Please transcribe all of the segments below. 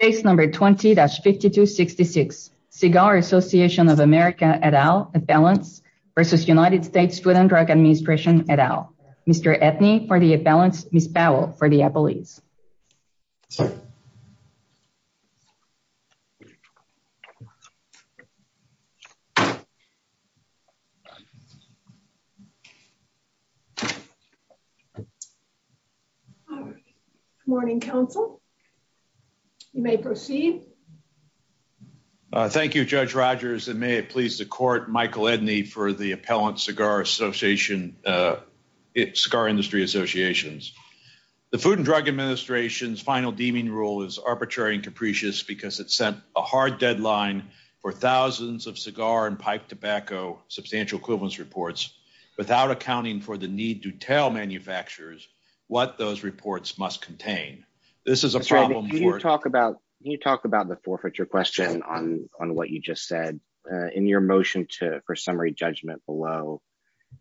at all at balance versus United States Food and Drug Administration at all. Mr. Ethny for the at balance, Ms. Powell for the at belief. Morning Council. You may proceed. Thank you, Judge Rogers and may it please the court, Michael Edney for the Appellant Cigar Association. It's Scar Industry Associations. The Food and Drug Administration's final deeming rule is arbitrary and capricious because it set a hard deadline for thousands of cigar and pipe tobacco substantial equivalence reports without accounting for the need to tell manufacturers what those reports must contain. This is a problem. Can you talk about the forfeiture question on what you just said in your motion for summary judgment below?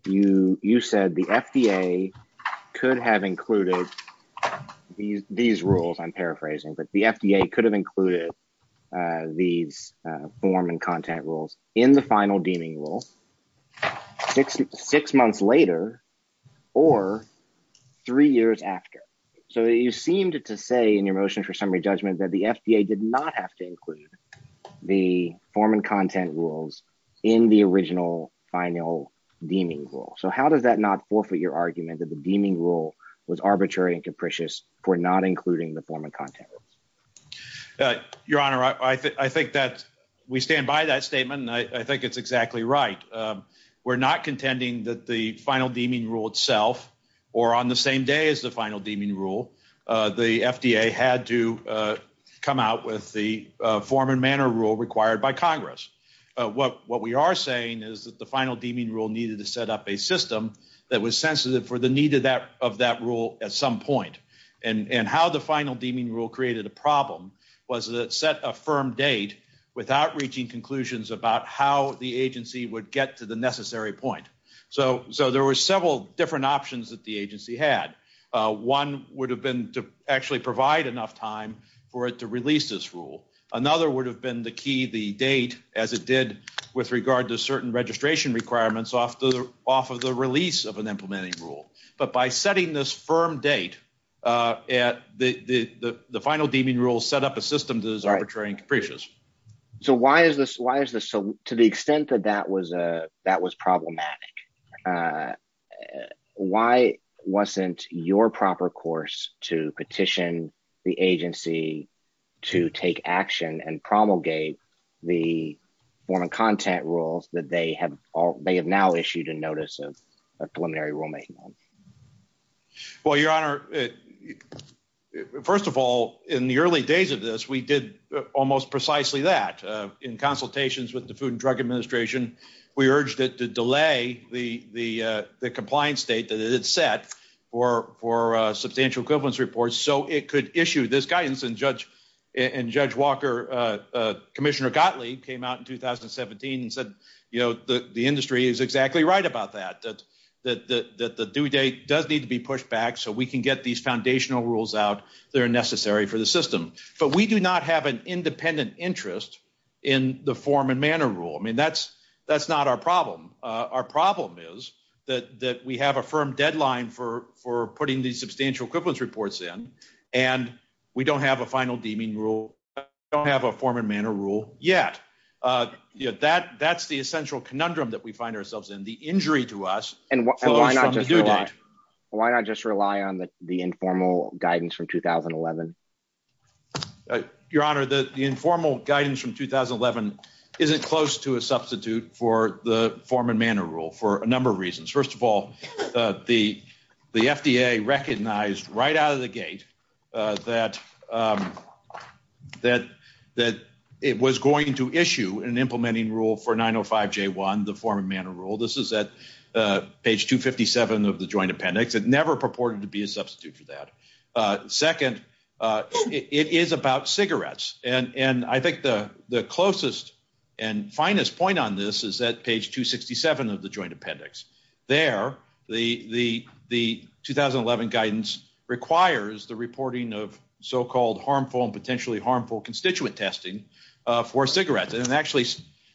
You said the FDA could have included these rules, I'm paraphrasing, but the FDA could have included these form and content rules in the final deeming rule six months later or three years after. So you seemed to say in your motion for summary judgment that the FDA did not have to include the form and content rules in the original final deeming rule. So how does that not forfeit your argument that the deeming rule was arbitrary and capricious for not including the form of content? Your Honor, I think that we stand by that statement and I think it's exactly right. We're not contending that the final deeming rule itself or on the same day as the final deeming rule, the FDA had to come out with the form and manner rule required by Congress. What we are saying is that the final deeming rule needed to set up a system that was sensitive for the need of that rule at some point. And how the final deeming rule created a problem was that it set a firm date without reaching conclusions about how the agency would get to the necessary point. So there were several different options that the agency had. One would have been to actually provide enough time for it to release this rule. Another would have been the key, the date, as it did with regard to certain registration requirements off of the release of an implementing rule. But by setting this firm date, the final deeming rule set up a system that is arbitrary and capricious. So why is this – to the extent that that was problematic, why wasn't your proper course to petition the agency to take action and promulgate the form and content rules that they have now issued in notice of preliminary rulemaking? Well, Your Honor, first of all, in the early days of this, we did almost precisely that. In consultations with the Food and Drug Administration, we urged it to delay the compliance date that it had set for substantial equivalence reports so it could issue this guidance. And Judge Walker, Commissioner Gottlieb, came out in 2017 and said, you know, the industry is exactly right about that, that the due date does need to be pushed back so we can get these foundational rules out that are necessary for the system. But we do not have an independent interest in the form and manner rule. I mean, that's not our problem. Our problem is that we have a firm deadline for putting these substantial equivalence reports in, and we don't have a final deeming rule. We don't have a form and manner rule yet. That's the essential conundrum that we find ourselves in, the injury to us. And why not just rely on the informal guidance from 2011? Your Honor, the informal guidance from 2011 isn't close to a substitute for the form and manner rule for a number of reasons. First of all, the FDA recognized right out of the gate that it was going to issue an implementing rule for 905J1, the form and manner rule. This is at page 257 of the Joint Appendix. It never purported to be a substitute for that. Second, it is about cigarettes. And I think the closest and finest point on this is at page 267 of the Joint Appendix. There, the 2011 guidance requires the reporting of so-called harmful and potentially harmful constituent testing for cigarettes. And it actually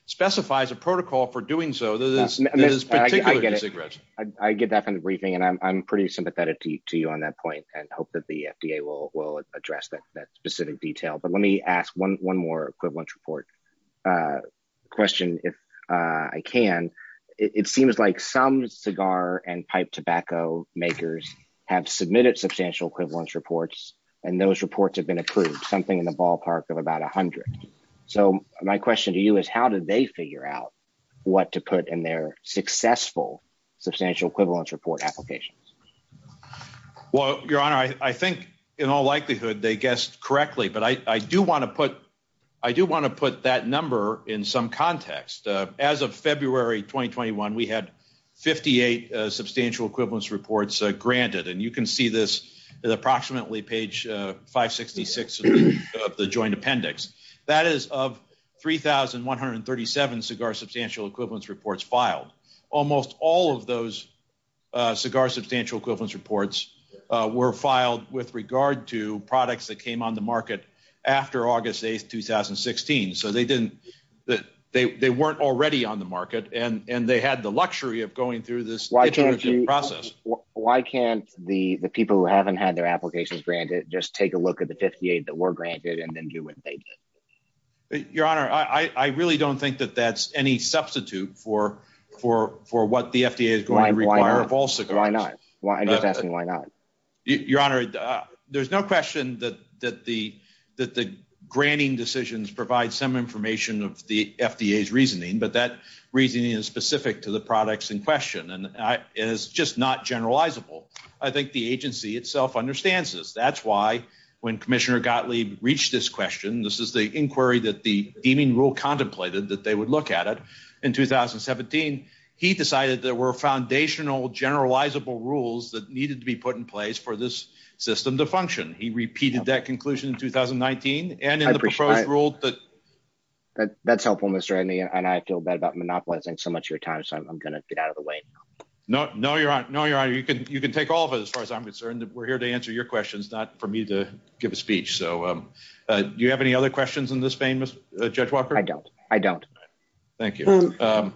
specifies a protocol for doing so that is particular to cigarettes. I get that from the briefing, and I'm pretty sympathetic to you on that point. I hope that the FDA will address that specific detail. But let me ask one more equivalence report question, if I can. It seems like some cigar and pipe tobacco makers have submitted substantial equivalence reports, and those reports have been approved, something in the ballpark of about 100. So my question to you is, how did they figure out what to put in their successful substantial equivalence report applications? Well, Your Honor, I think in all likelihood they guessed correctly. But I do want to put that number in some context. As of February 2021, we had 58 substantial equivalence reports granted. And you can see this at approximately page 566 of the Joint Appendix. That is of 3,137 cigar substantial equivalence reports filed. Almost all of those cigar substantial equivalence reports were filed with regard to products that came on the market after August 8, 2016. So they weren't already on the market, and they had the luxury of going through this technology process. Why can't the people who haven't had their applications granted just take a look at the 58 that were granted and then do what they did? Your Honor, I really don't think that that's any substitute for what the FDA is going to require of all cigars. Why not? Why not? Your Honor, there's no question that the granting decisions provide some information of the FDA's reasoning. But that reasoning is specific to the products in question, and it's just not generalizable. I think the agency itself understands this. That's why, when Commissioner Gottlieb reached this question, this is the inquiry that the deeming rule contemplated that they would look at it in 2017. He decided there were foundational generalizable rules that needed to be put in place for this system to function. He repeated that conclusion in 2019 and in the proposed rule. That's helpful, Mr. Edney, and I feel bad about monopolizing so much of your time, so I'm going to get out of the way. No, no, Your Honor. No, Your Honor. You can take all of it, as far as I'm concerned. We're here to answer your questions, not for me to give a speech. Do you have any other questions in this vein, Judge Walker? I don't. I don't. Thank you. Tell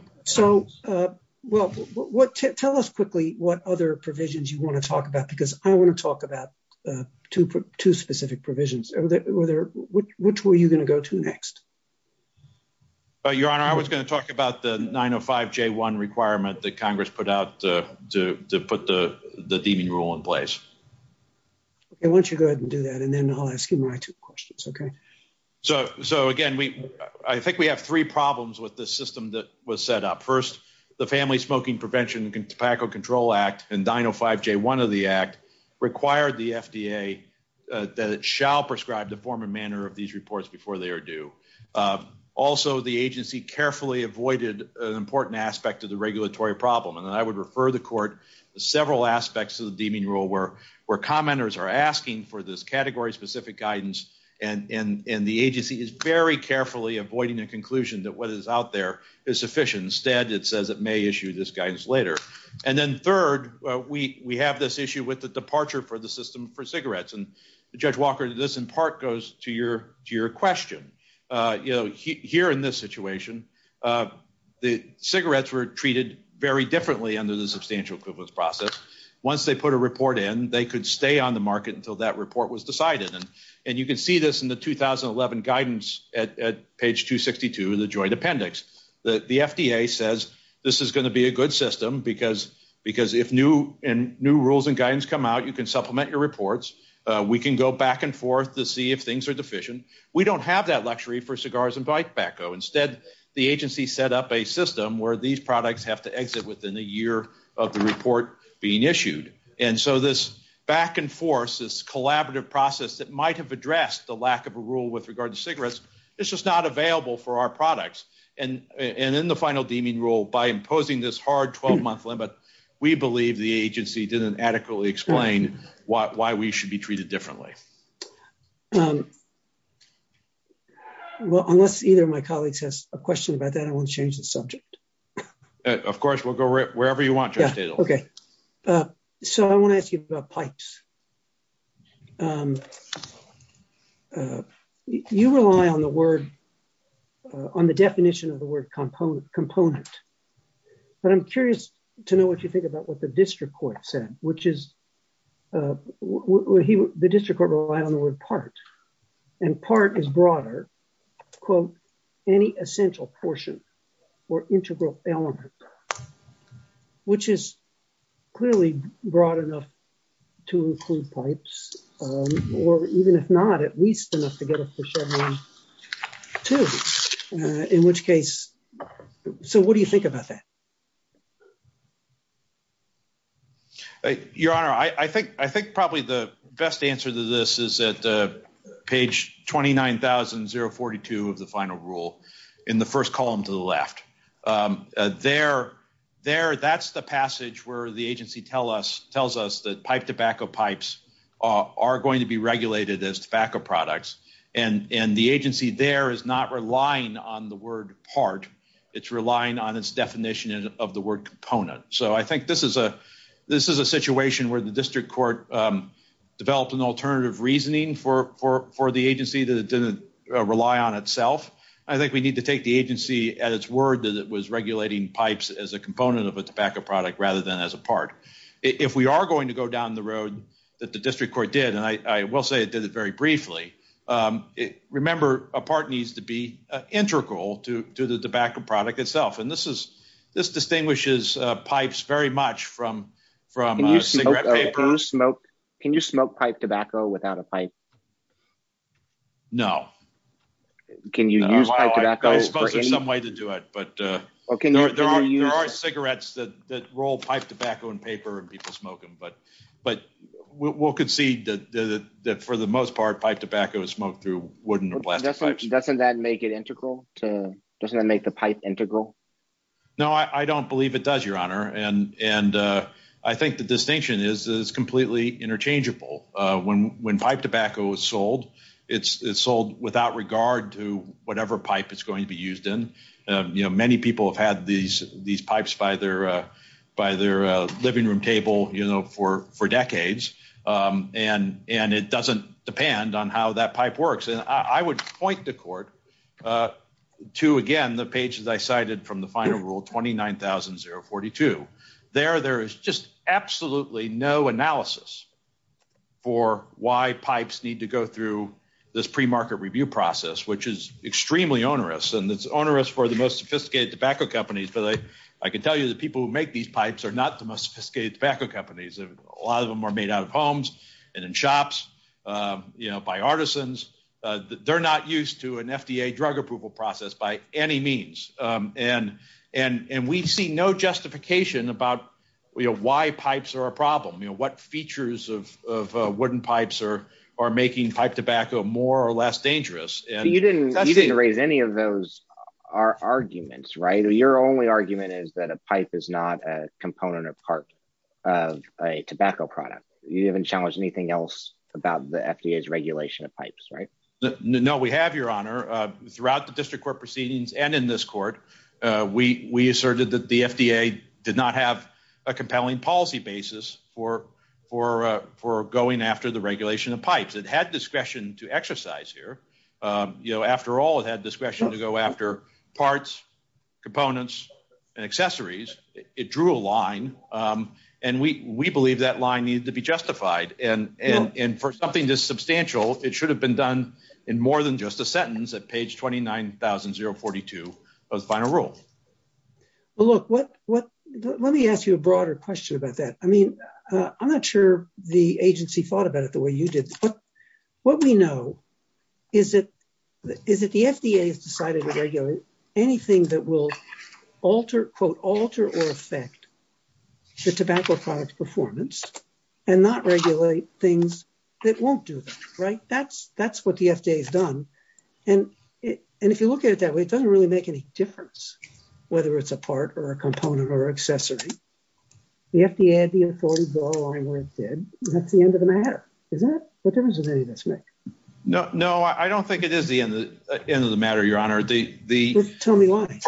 us quickly what other provisions you want to talk about, because I want to talk about two specific provisions. Which were you going to go to next? Your Honor, I was going to talk about the 905J1 requirement that Congress put out to put the deeming rule in place. Why don't you go ahead and do that, and then I'll ask you my two questions, okay? So, again, I think we have three problems with this system that was set up. First, the Family Smoking Prevention and Tobacco Control Act and 905J1 of the Act required the FDA that it shall prescribe the form and manner of these reports before they are due. Also, the agency carefully avoided an important aspect of the regulatory problem. And I would refer the Court to several aspects of the deeming rule where commenters are asking for this category-specific guidance, and the agency is very carefully avoiding the conclusion that what is out there is sufficient. Instead, it says it may issue this guidance later. And then, third, we have this issue with the departure for the system for cigarettes. And, Judge Walker, this in part goes to your question. Here in this situation, the cigarettes were treated very differently under the substantial equivalence process. Once they put a report in, they could stay on the market until that report was decided. And you can see this in the 2011 guidance at page 262 of the Joint Appendix. The FDA says this is going to be a good system because if new rules and guidance come out, you can supplement your reports. We can go back and forth to see if things are deficient. We don't have that luxury for cigars and tobacco. Instead, the agency set up a system where these products have to exit within a year of the report being issued. And so this back and forth, this collaborative process that might have addressed the lack of a rule with regard to cigarettes, it's just not available for our products. And in the final deeming rule, by imposing this hard 12-month limit, we believe the agency didn't adequately explain why we should be treated differently. Unless either of my colleagues has a question about that, I want to change the subject. Of course, we'll go wherever you want. Okay. So I want to ask you about pipes. You rely on the word, on the definition of the word component. But I'm curious to know what you think about what the district court said, which is the district court relied on the word part. And part is broader. Quote, any essential portion or integral element, which is clearly broad enough to include pipes, or even if not, at least enough to get us to Chevron 2. In which case, so what do you think about that? Your Honor, I think probably the best answer to this is at page 29,042 of the final rule, in the first column to the left. There, that's the passage where the agency tells us that pipe tobacco pipes are going to be regulated as tobacco products. And the agency there is not relying on the word part. It's relying on its definition of the word component. So I think this is a situation where the district court developed an alternative reasoning for the agency that it didn't rely on itself. I think we need to take the agency at its word that it was regulating pipes as a component of its tobacco product rather than as a part. If we are going to go down the road that the district court did, and I will say it did it very briefly, remember a part needs to be integral to the tobacco product itself. And this distinguishes pipes very much from cigarette paper. Can you smoke pipe tobacco without a pipe? No. Can you use pipe tobacco for any? There's some way to do it, but there are cigarettes that roll pipe tobacco in paper and people smoke them. We'll concede that for the most part pipe tobacco is smoked through wooden or plastic pipes. Doesn't that make it integral? Doesn't that make the pipe integral? No, I don't believe it does, Your Honor. And I think the distinction is that it's completely interchangeable. When pipe tobacco is sold, it's sold without regard to whatever pipe it's going to be used in. Many people have had these pipes by their living room table for decades, and it doesn't depend on how that pipe works. And I would point the court to, again, the pages I cited from the final rule, 29,042. There, there is just absolutely no analysis for why pipes need to go through this pre-market review process, which is extremely onerous, and it's onerous for the most sophisticated tobacco companies. But I can tell you the people who make these pipes are not the most sophisticated tobacco companies. A lot of them are made out of homes and in shops by artisans. They're not used to an FDA drug approval process by any means. And we see no justification about why pipes are a problem, what features of wooden pipes are making pipe tobacco more or less dangerous. You didn't raise any of those arguments, right? Your only argument is that a pipe is not a component or part of a tobacco product. You haven't challenged anything else about the FDA's regulation of pipes, right? No, we have, Your Honor. Throughout the district court proceedings and in this court, we asserted that the FDA did not have a compelling policy basis for going after the regulation of pipes. It had discretion to exercise here. You know, after all, it had discretion to go after parts, components, and accessories. It drew a line, and we believe that line needs to be justified. And for something this substantial, it should have been done in more than just a sentence at page 29042 of the final rule. Well, look, let me ask you a broader question about that. I mean, I'm not sure the agency thought about it the way you did. But what we know is that the FDA has decided to regulate anything that will alter or affect the tobacco product's performance and not regulate things that won't do that, right? That's what the FDA has done. And if you look at it that way, it doesn't really make any difference whether it's a part or a component or accessory. The FDA had the authority to go along with it. That's the end of the matter. Is that the difference of any of this, Nick? No, I don't think it is the end of the matter, Your Honor. Just tell me why.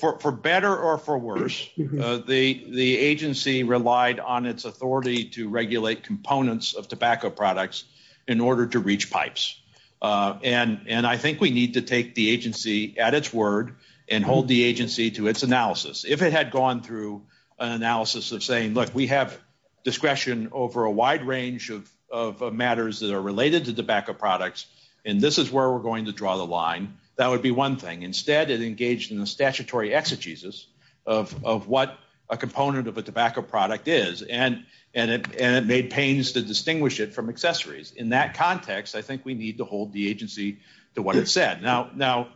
For better or for worse, the agency relied on its authority to regulate components of tobacco products in order to reach pipes. And I think we need to take the agency at its word and hold the agency to its analysis. If it had gone through an analysis of saying, look, we have discretion over a wide range of matters that are related to tobacco products, and this is where we're going to draw the line, that would be one thing. Instead, it engaged in a statutory exegesis of what a component of a tobacco product is, and it made pains to distinguish it from accessories. In that context, I think we need to hold the agency to what it said. Now,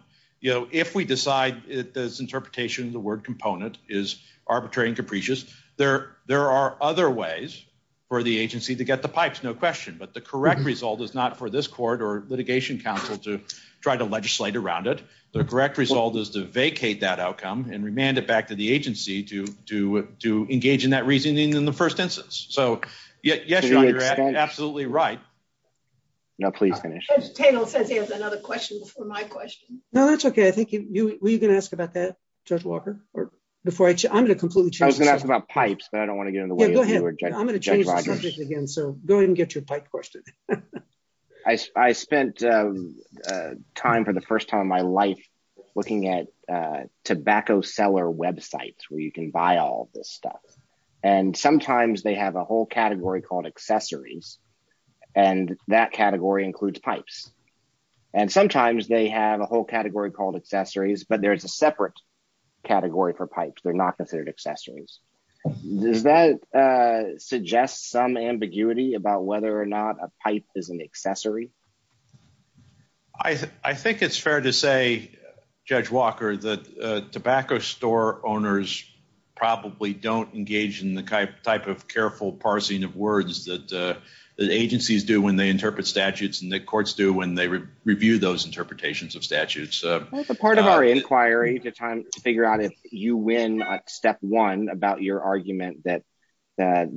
if we decide its interpretation of the word component is arbitrary and capricious, there are other ways for the agency to get the pipes, no question. But the correct result is not for this court or litigation council to try to legislate around it. The correct result is to vacate that outcome and remand it back to the agency to engage in that reasoning in the first instance. So, yes, Your Honor, you're absolutely right. No, please finish. The panel said they had another question before my question. No, that's OK. I think you were going to ask about that, Judge Walker. I was going to ask about pipes, but I don't want to get in the way. Go ahead. I'm going to change my subject again, so go ahead and get your pipe question. I spent time for the first time in my life looking at tobacco seller websites where you can buy all this stuff. And sometimes they have a whole category called accessories, and that category includes pipes. And sometimes they have a whole category called accessories, but there's a separate category for pipes. They're not considered accessories. Does that suggest some ambiguity about whether or not a pipe is an accessory? I think it's fair to say, Judge Walker, that tobacco store owners probably don't engage in the type of careful parsing of words that agencies do when they interpret statutes and that courts do when they review those interpretations of statutes. Part of our inquiry to figure out if you win step one about your argument that a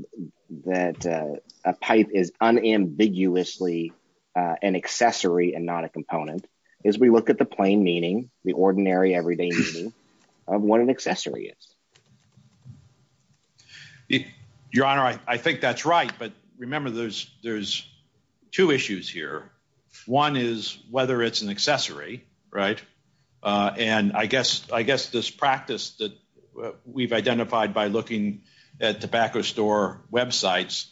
pipe is unambiguously an accessory and not a component is we look at the plain meaning, the ordinary, everyday meaning of what an accessory is. Your Honor, I think that's right. But remember, there's two issues here. One is whether it's an accessory, right? And I guess this practice that we've identified by looking at tobacco store websites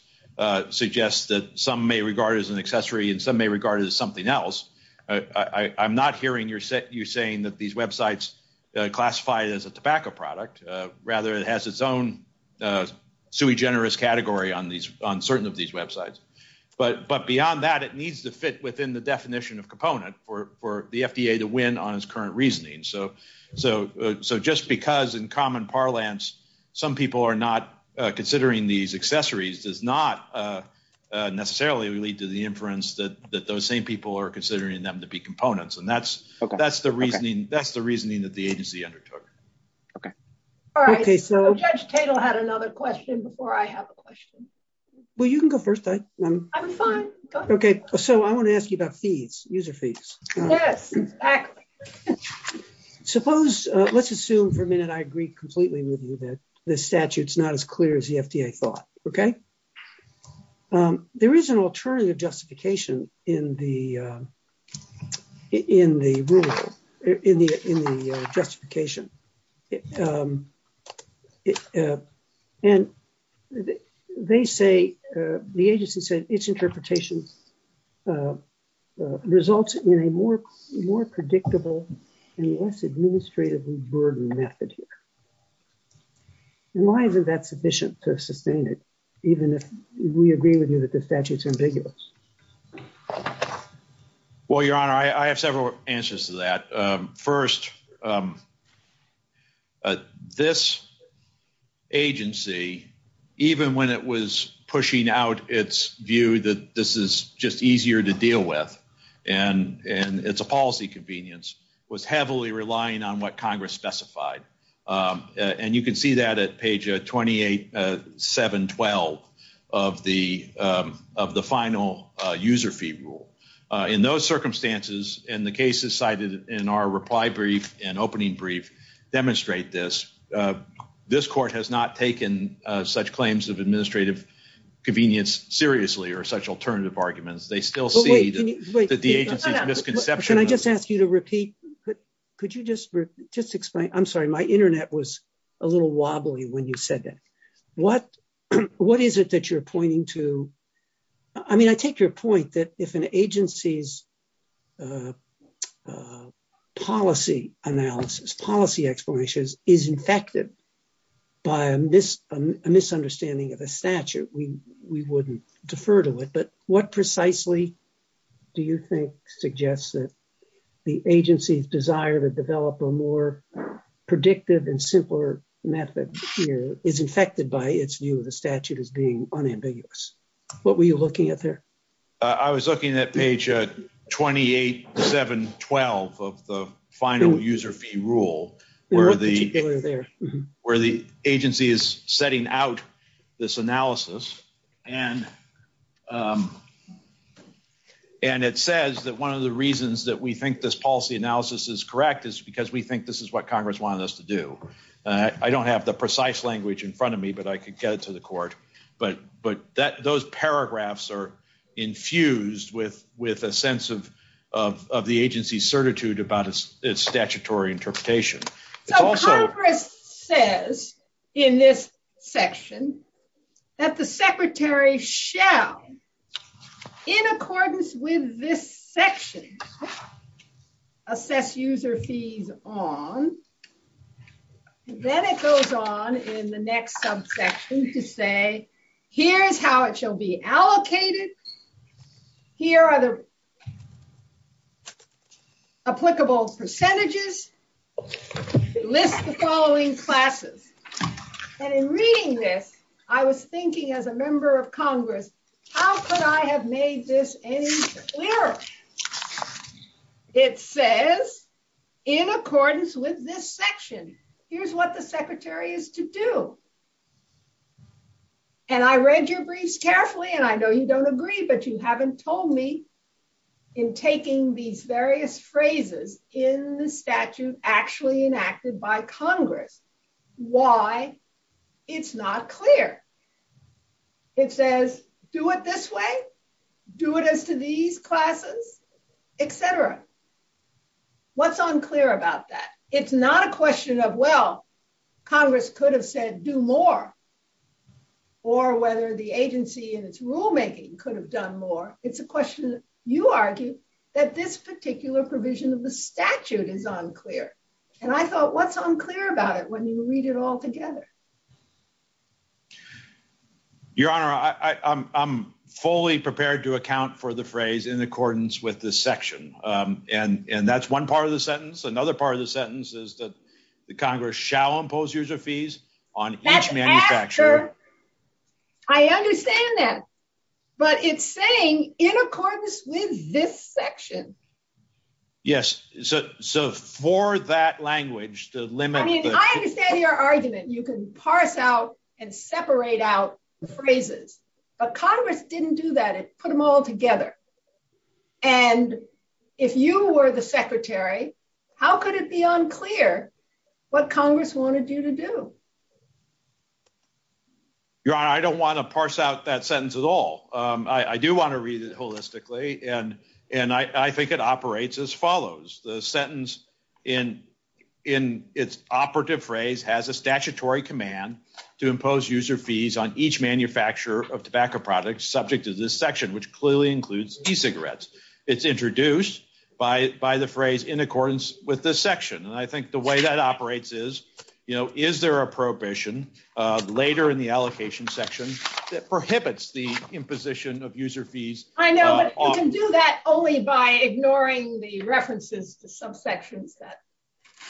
suggests that some may regard it as an accessory and some may regard it as something else. I'm not hearing you saying that these websites classify it as a tobacco product. Rather, it has its own sui generis category on certain of these websites. But beyond that, it needs to fit within the definition of component for the FBA to win on its current reasoning. So just because in common parlance some people are not considering these accessories does not necessarily lead to the inference that those same people are considering them to be components. And that's the reasoning that the agency undertook. Okay. All right. Well, you can go first. I'm fine. Okay. So I want to ask you about fees, user fees. Yes, exactly. Suppose, let's assume for a minute I agree completely with you that the statute's not as clear as the FDA thought, okay? There is an alternative justification in the ruling, in the justification. And they say, the agency said its interpretation results in a more predictable and less administratively burdened method here. Why is that sufficient to sustain it even if we agree with you that the statute's ambiguous? Well, Your Honor, I have several answers to that. First, this agency, even when it was pushing out its view that this is just easier to deal with and it's a policy convenience, was heavily relying on what Congress specified. And you can see that at page 28712 of the final user fee rule. In those circumstances, and the cases cited in our reply brief and opening brief demonstrate this, this court has not taken such claims of administrative convenience seriously or such alternative arguments. They still see that the agency's misconception. Can I just ask you to repeat? Could you just explain? I'm sorry. My internet was a little wobbly when you said that. What is it that you're pointing to? I mean, I take your point that if an agency's policy analysis, policy explanation is infected by a misunderstanding of a statute, we wouldn't defer to it. But what precisely do you think suggests that the agency's desire to develop a more predictive and simpler method is infected by its view of the statute as being unambiguous? What were you looking at there? I was looking at page 28712 of the final user fee rule where the agency is setting out this analysis. And it says that one of the reasons that we think this policy analysis is correct is because we think this is what Congress wanted us to do. I don't have the precise language in front of me, but I could get it to the court. But those paragraphs are infused with a sense of the agency's certitude about its statutory interpretation. So Congress says in this section that the secretary shall, in accordance with this section, assess user fees on. Then it goes on in the next subsection to say, here's how it shall be allocated. Here are the applicable percentages. List the following classes. And in reading this, I was thinking as a member of Congress, how could I have made this any clearer? It says, in accordance with this section, here's what the secretary is to do. And I read your briefs carefully, and I know you don't agree, but you haven't told me in taking these various phrases in the statute actually enacted by Congress why it's not clear. It says, do it this way, do it as to these classes, et cetera. What's unclear about that? It's not a question of, well, Congress could have said, do more, or whether the agency in its rulemaking could have done more. It's a question, you argue, that this particular provision of the statute is unclear. And I thought, what's unclear about it when you read it all together? Your Honor, I'm fully prepared to account for the phrase, in accordance with this section. And that's one part of the sentence. Another part of the sentence is that the Congress shall impose user fees on each manufacturer. I understand that. But it's saying, in accordance with this section. Yes. So for that language, the limit. I understand your argument. You can parse out and separate out phrases. But Congress didn't do that. It put them all together. And if you were the Secretary, how could it be unclear what Congress wanted you to do? Your Honor, I don't want to parse out that sentence at all. I do want to read it holistically. And I think it operates as follows. The sentence in its operative phrase has a statutory command to impose user fees on each manufacturer of tobacco products, subject to this section, which clearly includes e-cigarettes. It's introduced by the phrase, in accordance with this section. And I think the way that operates is, you know, is there a prohibition later in the allocation section that prohibits the imposition of user fees? I know, but you can do that only by ignoring the references to some sections that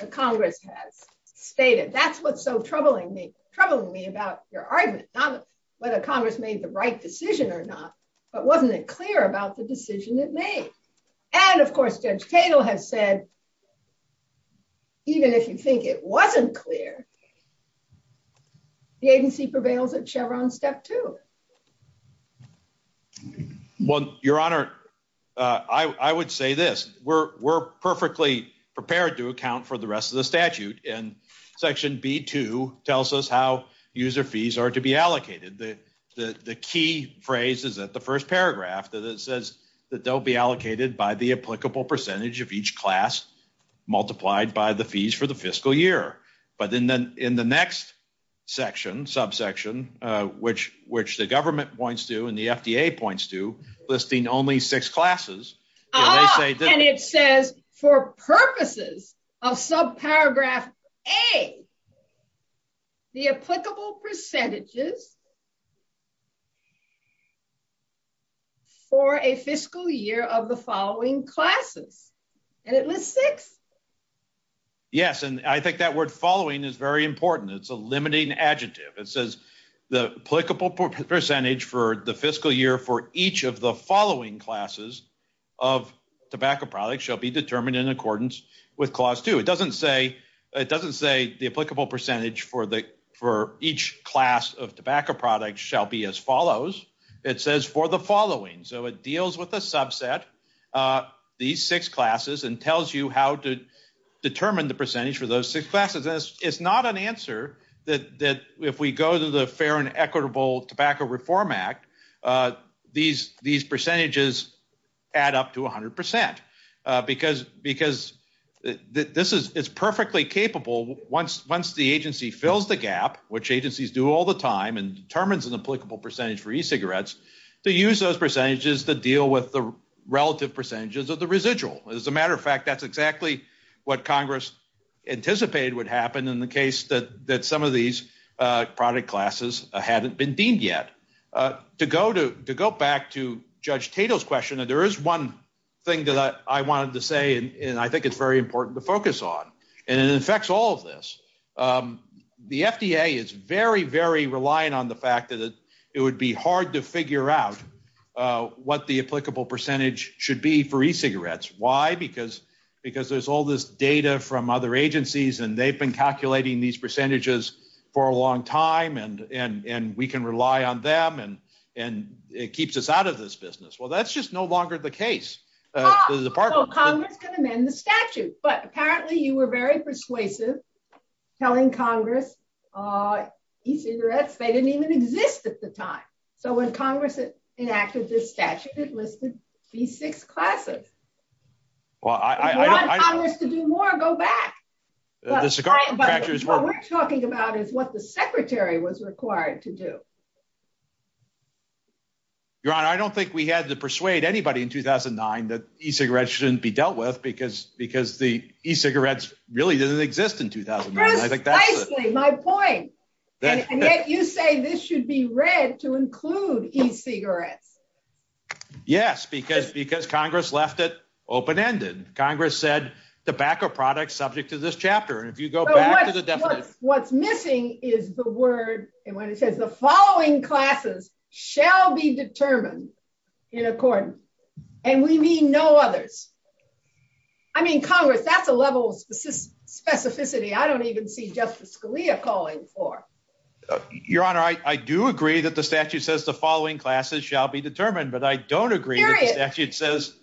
the Congress has stated. That's what's so troubling me about your argument. Not whether Congress made the right decision or not, but wasn't it clear about the decision it made? And, of course, Judge Cagle has said, even if you think it wasn't clear, the agency prevails at Chevron Step 2. Well, Your Honor, I would say this. We're perfectly prepared to account for the rest of the statute. And Section B-2 tells us how user fees are to be allocated. The key phrase is at the first paragraph that it says that they'll be allocated by the applicable percentage of each class, multiplied by the fees for the fiscal year. But then in the next section, subsection, which the government points to and the FDA points to, listing only six classes. And it says, for purposes of subparagraph A, the applicable percentages for a fiscal year of the following classes. And it lists six. Yes, and I think that word following is very important. It's a limiting adjective. It says the applicable percentage for the fiscal year for each of the following classes of tobacco products shall be determined in accordance with Clause 2. It doesn't say the applicable percentage for each class of tobacco products shall be as follows. It says for the following. So it deals with a subset, these six classes, and tells you how to determine the percentage for those six classes. It's not an answer that if we go to the Fair and Equitable Tobacco Reform Act, these percentages add up to 100%. Because this is perfectly capable once the agency fills the gap, which agencies do all the time and determines an applicable percentage for e-cigarettes, to use those percentages to deal with the relative percentages of the residual. As a matter of fact, that's exactly what Congress anticipated would happen in the case that some of these product classes hadn't been deemed yet. To go back to Judge Tatel's question, there is one thing that I wanted to say and I think it's very important to focus on. And it affects all of this. The FDA is very, very reliant on the fact that it would be hard to figure out what the applicable percentage should be for e-cigarettes. Why? Because there's all this data from other agencies and they've been calculating these percentages for a long time and we can rely on them and it keeps us out of this business. Well, that's just no longer the case. Congress can amend the statute, but apparently you were very persuasive telling Congress e-cigarettes, they didn't even exist at the time. So when Congress enacted this statute, it listed these six classes. If you want Congress to do more, go back. What we're talking about is what the Secretary was required to do. Your Honor, I don't think we had to persuade anybody in 2009 that e-cigarettes shouldn't be dealt with because the e-cigarettes really didn't exist in 2009. That's precisely my point. And yet you say this should be read to include e-cigarettes. Yes, because Congress left it open-ended. Congress said tobacco products subject to this chapter. What's missing is the word, and when it says the following classes shall be determined in accordance. And we mean no others. I mean, Congress, that's a level of specificity I don't even see Justice Scalia calling for. Your Honor, I do agree that the statute says the following classes shall be determined, but I don't agree that the statute says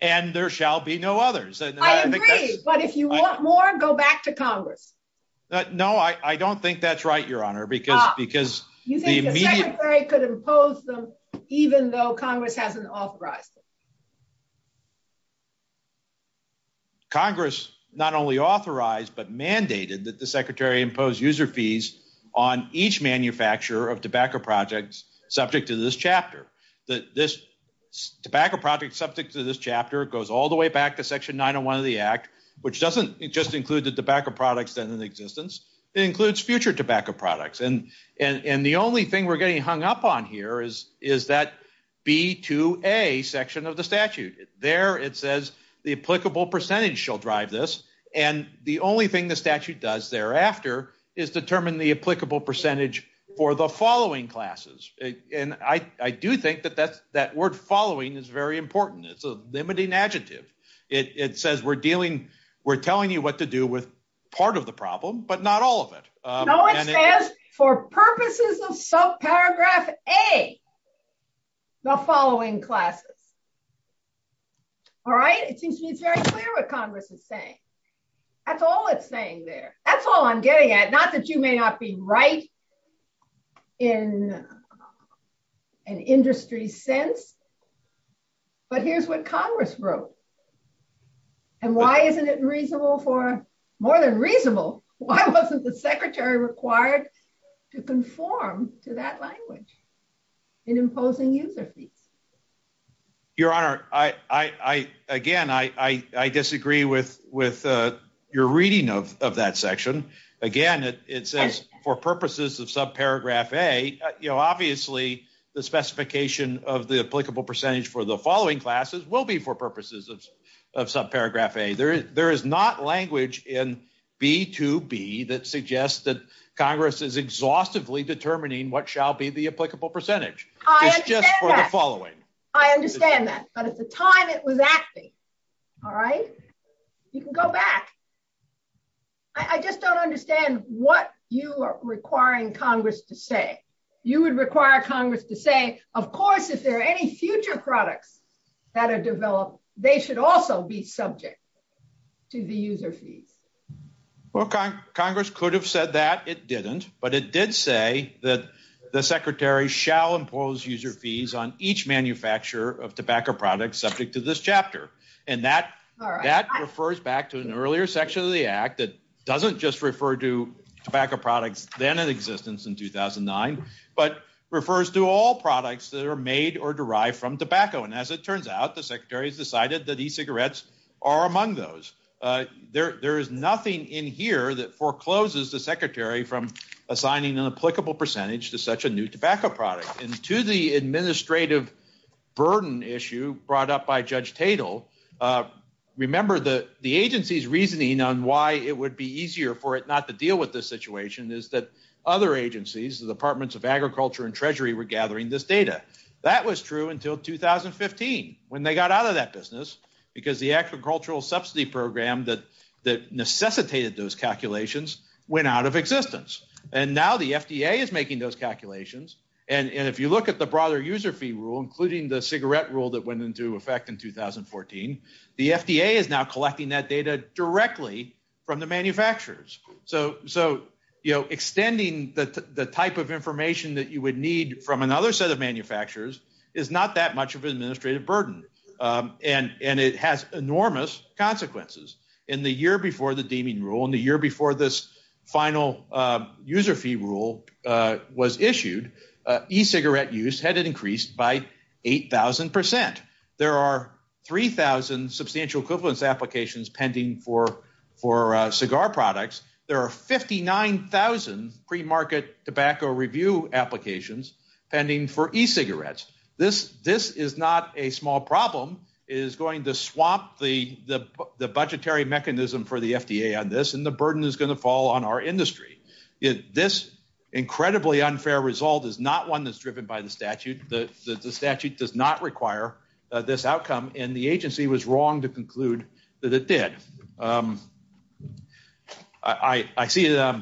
and there shall be no others. I agree, but if you want more, go back to Congress. No, I don't think that's right, Your Honor. You think the Secretary could impose them even though Congress hasn't authorized them? Congress not only authorized but mandated that the Secretary impose user fees on each manufacturer of tobacco products subject to this chapter. This tobacco product subject to this chapter goes all the way back to Section 901 of the Act, which doesn't just include the tobacco products that are in existence. It includes future tobacco products. And the only thing we're getting hung up on here is that B to A section of the statute. There it says the applicable percentage shall drive this, and the only thing the statute does thereafter is determine the applicable percentage for the following classes. And I do think that that word following is very important. It's a limiting adjective. It says we're telling you what to do with part of the problem, but not all of it. No, it says for purposes of subparagraph A, the following classes. All right? It seems to be very clear what Congress is saying. That's all it's saying there. That's all I'm getting at. Not that you may not be right in an industry sense, but here's what Congress wrote. And why isn't it reasonable for more than reasonable, why wasn't the Secretary required to conform to that language in imposing user fees? Your Honor, again, I disagree with your reading of that section. Again, it says for purposes of subparagraph A. Obviously, the specification of the applicable percentage for the following classes will be for purposes of subparagraph A. There is not language in B to B that suggests that Congress is exhaustively determining what shall be the applicable percentage. It's just for the following. I understand that. But at the time it was acting. All right? You can go back. I just don't understand what you are requiring Congress to say. You would require Congress to say, of course, if there are any future products that are developed, they should also be subject to the user fees. Well, Congress could have said that. It didn't. But it did say that the Secretary shall impose user fees on each manufacturer of tobacco products subject to this chapter. And that refers back to an earlier section of the Act that doesn't just refer to tobacco products then in existence in 2009, but refers to all products that are made or derived from tobacco. And as it turns out, the Secretary decided that e-cigarettes are among those. There is nothing in here that forecloses the Secretary from assigning an applicable percentage to such a new tobacco product. And to the administrative burden issue brought up by Judge Tatel, remember the agency's reasoning on why it would be easier for it not to deal with this situation is that other agencies, the Departments of Agriculture and Treasury, were gathering this data. That was true until 2015, when they got out of that business, because the Agricultural Subsidy Program that necessitated those calculations went out of existence. And now the FDA is making those calculations. And if you look at the broader user fee rule, including the cigarette rule that went into effect in 2014, the FDA is now collecting that data directly from the manufacturers. So, you know, extending the type of information that you would need from another set of manufacturers is not that much of an administrative burden. And it has enormous consequences. In the year before the deeming rule, in the year before this final user fee rule was issued, e-cigarette use had increased by 8,000 percent. There are 3,000 substantial equivalence applications pending for cigar products. There are 59,000 pre-market tobacco review applications pending for e-cigarettes. This is not a small problem. It is going to swamp the budgetary mechanism for the FDA on this, and the burden is going to fall on our industry. This incredibly unfair result is not one that's driven by the statute. The statute does not require this outcome, and the agency was wrong to conclude that it did. I see that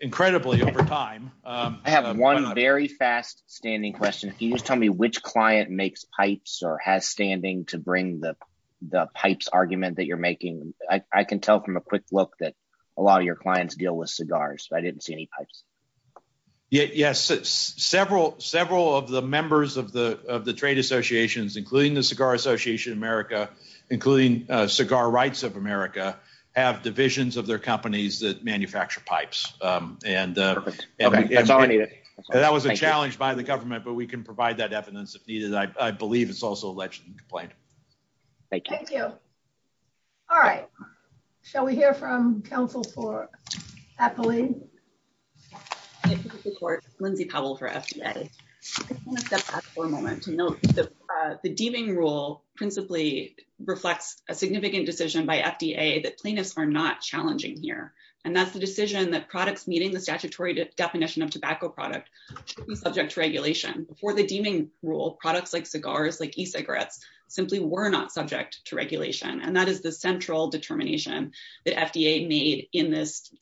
incredibly over time. I have one very fast-standing question. Can you just tell me which client makes pipes or has standing to bring the pipes argument that you're making? I can tell from a quick look that a lot of your clients deal with cigars, but I didn't see any pipes. Yes. Several of the members of the trade associations, including the Cigar Association of America, including Cigar Rights of America, have divisions of their companies that manufacture pipes. Okay. That's all I needed. That was a challenge by the government, but we can provide that evidence if needed. I believe it's also a legitimate complaint. Thank you. Thank you. All right. Shall we hear from counsel for Appley? This is Lindsay Powell for FDA. I just want to step back for a moment to note that the deeming rule principally reflects a significant decision by FDA that cleaners are not challenging here, and that's the decision that products meeting the statutory definition of tobacco product should be subject to regulation. Before the deeming rule, products like cigars, like e-cigarettes, simply were not subject to regulation, and that is the central determination that FDA made in this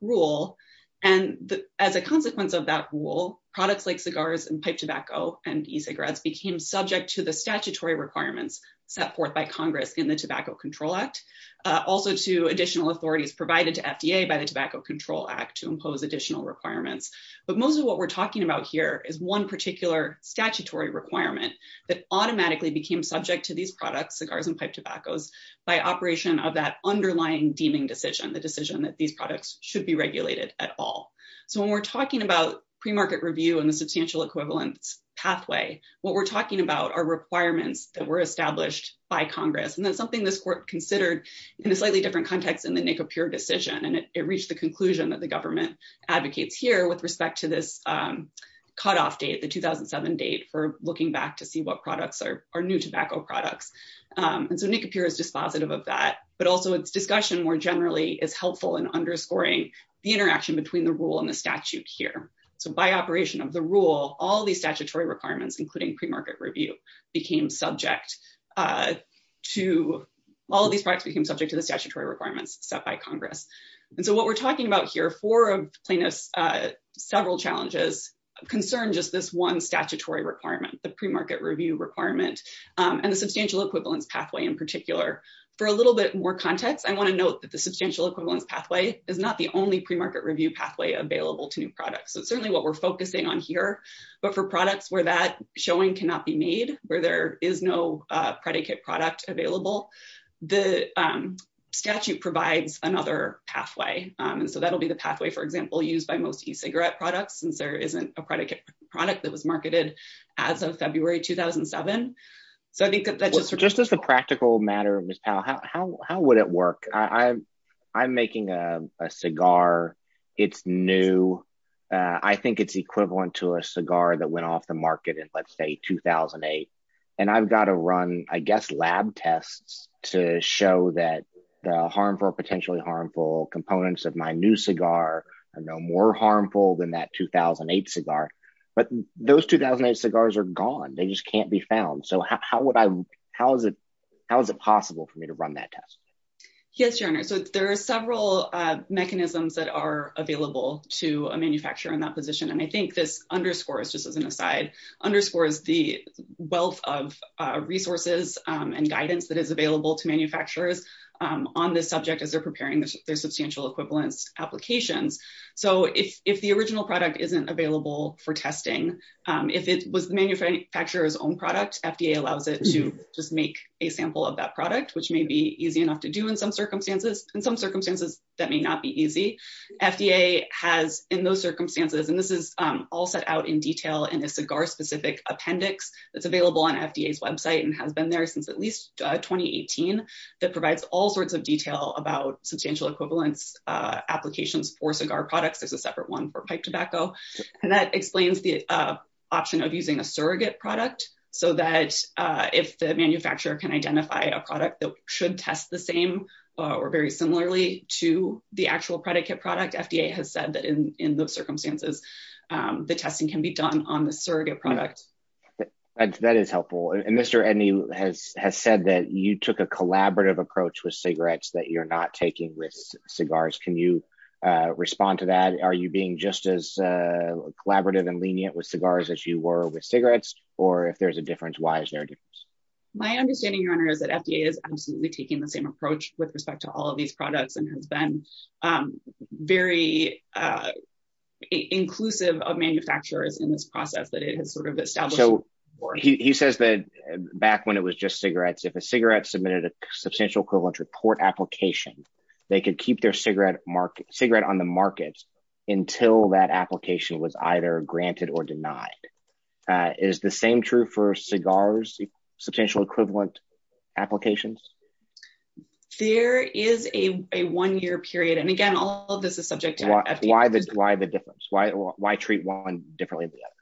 rule. And as a consequence of that rule, products like cigars and pipe tobacco and e-cigarettes became subject to the statutory requirements set forth by Congress in the Tobacco Control Act, also to additional authorities provided to FDA by the Tobacco Control Act to impose additional requirements. But mostly what we're talking about here is one particular statutory requirement that automatically became subject to these products, cigars and pipe tobaccos, by operation of that underlying deeming decision, the decision that these products should be regulated at all. So when we're talking about premarket review and the substantial equivalence pathway, what we're talking about are requirements that were established by Congress, and that's something this court considered in a slightly different context than the NIFA pure decision, and it reached the conclusion that the government advocates here with respect to this cutoff date, the 2007 date for looking back to see what products are new tobacco products. And so NIFA pure is dispositive of that, but also its discussion more generally is helpful in underscoring the interaction between the rule and the statute here. So by operation of the rule, all these statutory requirements, including premarket review, all of these products became subject to the statutory requirements set by Congress. And so what we're talking about here, for plainness, several challenges, concerns just this one statutory requirement, the premarket review requirement and the substantial equivalence pathway in particular. For a little bit more context, I want to note that the substantial equivalence pathway is not the only premarket review pathway available to new products. It's certainly what we're focusing on here. But for products where that showing cannot be made, where there is no predicate product available, the statute provides another pathway. And so that'll be the pathway, for example, used by most e-cigarette products, since there isn't a predicate product that was marketed as of February 2007. So just as a practical matter, Ms. Powell, how would it work? I'm making a cigar. It's new. I think it's equivalent to a cigar that went off the market in, let's say, 2008. And I've got to run, I guess, lab tests to show that the harmful or potentially harmful components of my new cigar are no more harmful than that 2008 cigar. But those 2008 cigars are gone. They just can't be found. So how is it possible for me to run that test? Yes, Jonah. So there are several mechanisms that are available to a manufacturer in that position. And I think this underscores, just as an aside, underscores the wealth of resources and guidance that is available to manufacturers on this subject as they're preparing their substantial equivalence application. So if the original product isn't available for testing, if it was the manufacturer's own product, FDA allows it to just make a sample of that product, which may be easy enough to do in some circumstances. In some circumstances, that may not be easy. FDA has in those circumstances, and this is all set out in detail in a cigar specific appendix that's available on FDA's website and has been there since at least 2018, that provides all sorts of detail about substantial equivalence applications for cigar products. There's a separate one for pipe tobacco. And that explains the option of using a surrogate product so that if the manufacturer can identify a product that should test the same or very similarly to the actual predicate product, FDA has said that in those circumstances, the testing can be done on the surrogate product. That is helpful. And Mr. Edney has said that you took a collaborative approach with cigarettes that you're not taking with cigars. Can you respond to that? Are you being just as collaborative and lenient with cigars as you were with cigarettes? Or if there's a difference, why is there a difference? My understanding, Your Honor, is that FDA is absolutely taking the same approach with respect to all of these products and has been very inclusive of manufacturers in this process that it has sort of established. So he says that back when it was just cigarettes, if a cigarette submitted a substantial equivalence report application, they could keep their cigarette on the market until that application was either granted or denied. Is the same true for cigars? Substantial equivalent applications? There is a one year period. And again, all of this is subject to FDA. Why the difference? Why treat one differently than the other?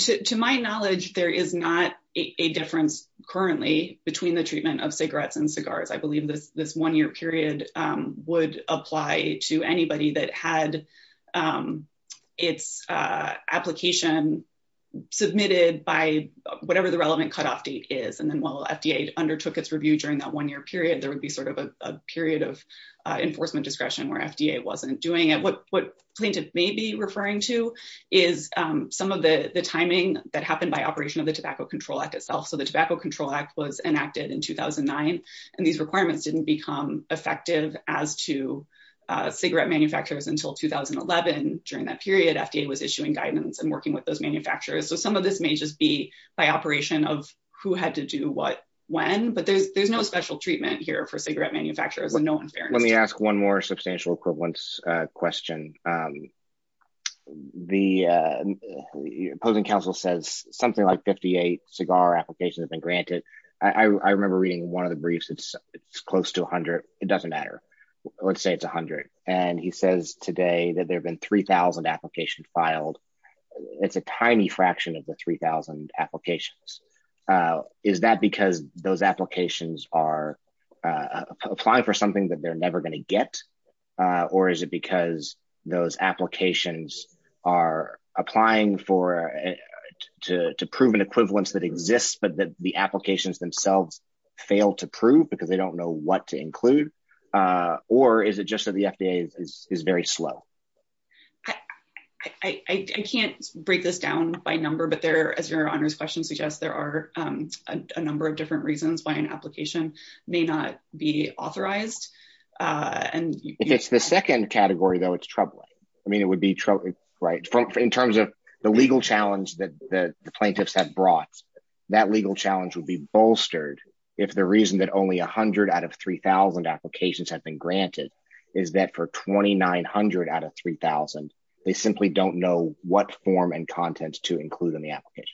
So to my knowledge, there is not a difference currently between the treatment of cigarettes and cigars. I believe that this one year period would apply to anybody that had its application submitted by whatever the relevant cutoff date is. And then while FDA undertook its review during that one year period, there would be sort of a period of enforcement discretion where FDA wasn't doing it. What plaintiffs may be referring to is some of the timing that happened by operation of the Tobacco Control Act itself. So the Tobacco Control Act was enacted in 2009 and these requirements didn't become effective as to cigarette manufacturers until 2011. During that period, FDA was issuing guidance and working with those manufacturers. So some of this may just be by operation of who had to do what, when. But there's no special treatment here for cigarette manufacturers. Let me ask one more substantial equivalence question. The opposing counsel says something like 58 cigar applications have been granted. I remember reading one of the briefs. It's close to 100. It doesn't matter. Let's say it's 100. And he says today that there have been 3000 applications filed. It's a tiny fraction of the 3000 applications. Is that because those applications are applying for something that they're never going to get? Or is it because those applications are applying to prove an equivalence that exists, but the applications themselves fail to prove because they don't know what to include? Or is it just that the FDA is very slow? I can't break this down by number, but there are a number of different reasons why an application may not be authorized. And it's the second category, though, it's troubling. I mean, it would be right in terms of the legal challenge that the plaintiffs have brought. That legal challenge would be bolstered if the reason that only 100 out of 3000 applications have been granted is that for 2900 out of 3000, they simply don't know what form and content to include in the application.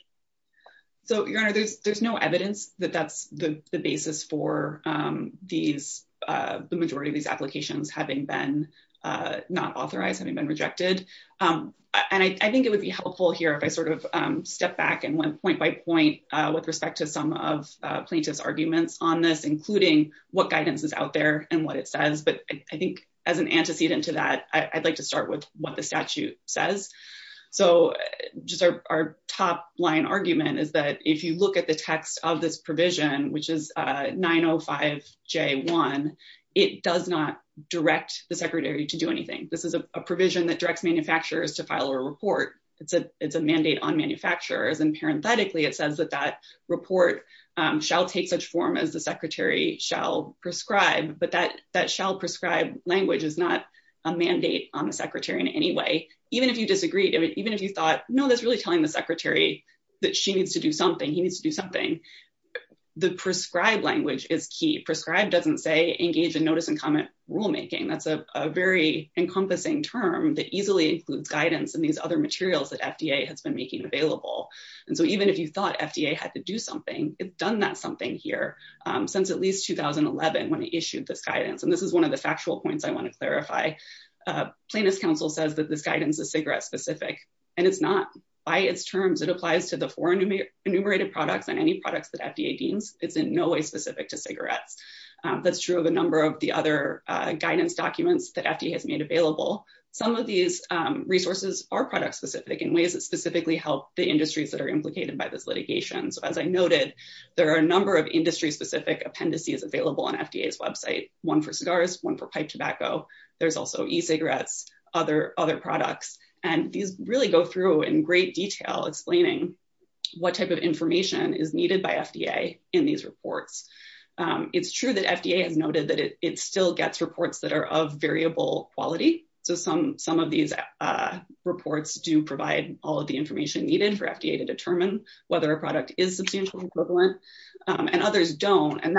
So there's no evidence that that's the basis for these. The majority of these applications having been not authorized, having been rejected. And I think it would be helpful here if I sort of step back and one point by point with respect to some of plaintiff's arguments on this, including what guidance is out there and what it says. But I think as an antecedent to that, I'd like to start with what the statute says. So our top line argument is that if you look at the text of this provision, which is 905J1, it does not direct the secretary to do anything. This is a provision that directs manufacturers to file a report. It's a mandate on manufacturers. And parenthetically, it says that that report shall take such form as the secretary shall prescribe. But that shall prescribe language is not a mandate on the secretary in any way. Even if you disagreed, even if you thought, no, that's really telling the secretary that she needs to do something, he needs to do something. The prescribed language is key. Prescribed doesn't say engage in notice and comment rulemaking. That's a very encompassing term that easily includes guidance and these other materials that FDA has been making available. And so even if you thought FDA had to do something, it's done that something here since at least 2011 when it issued this guidance. And this is one of the factual points I want to clarify. Plaintiff's counsel says that this guidance is cigarette-specific. And it's not. By its terms, it applies to the four enumerated products and any products that FDA deems. It's in no way specific to cigarettes. That's true of a number of the other guidance documents that FDA has made available. Some of these resources are product-specific in ways that specifically help the industries that are implicated by this litigation. As I noted, there are a number of industry-specific appendices available on FDA's website, one for cigars, one for pipe tobacco. There's also e-cigarettes, other products. And these really go through in great detail explaining what type of information is needed by FDA in these reports. It's true that FDA noted that it still gets reports that are of variable quality. So some of these reports do provide all of the information needed for FDA to determine whether a product is the same equivalent and others don't. And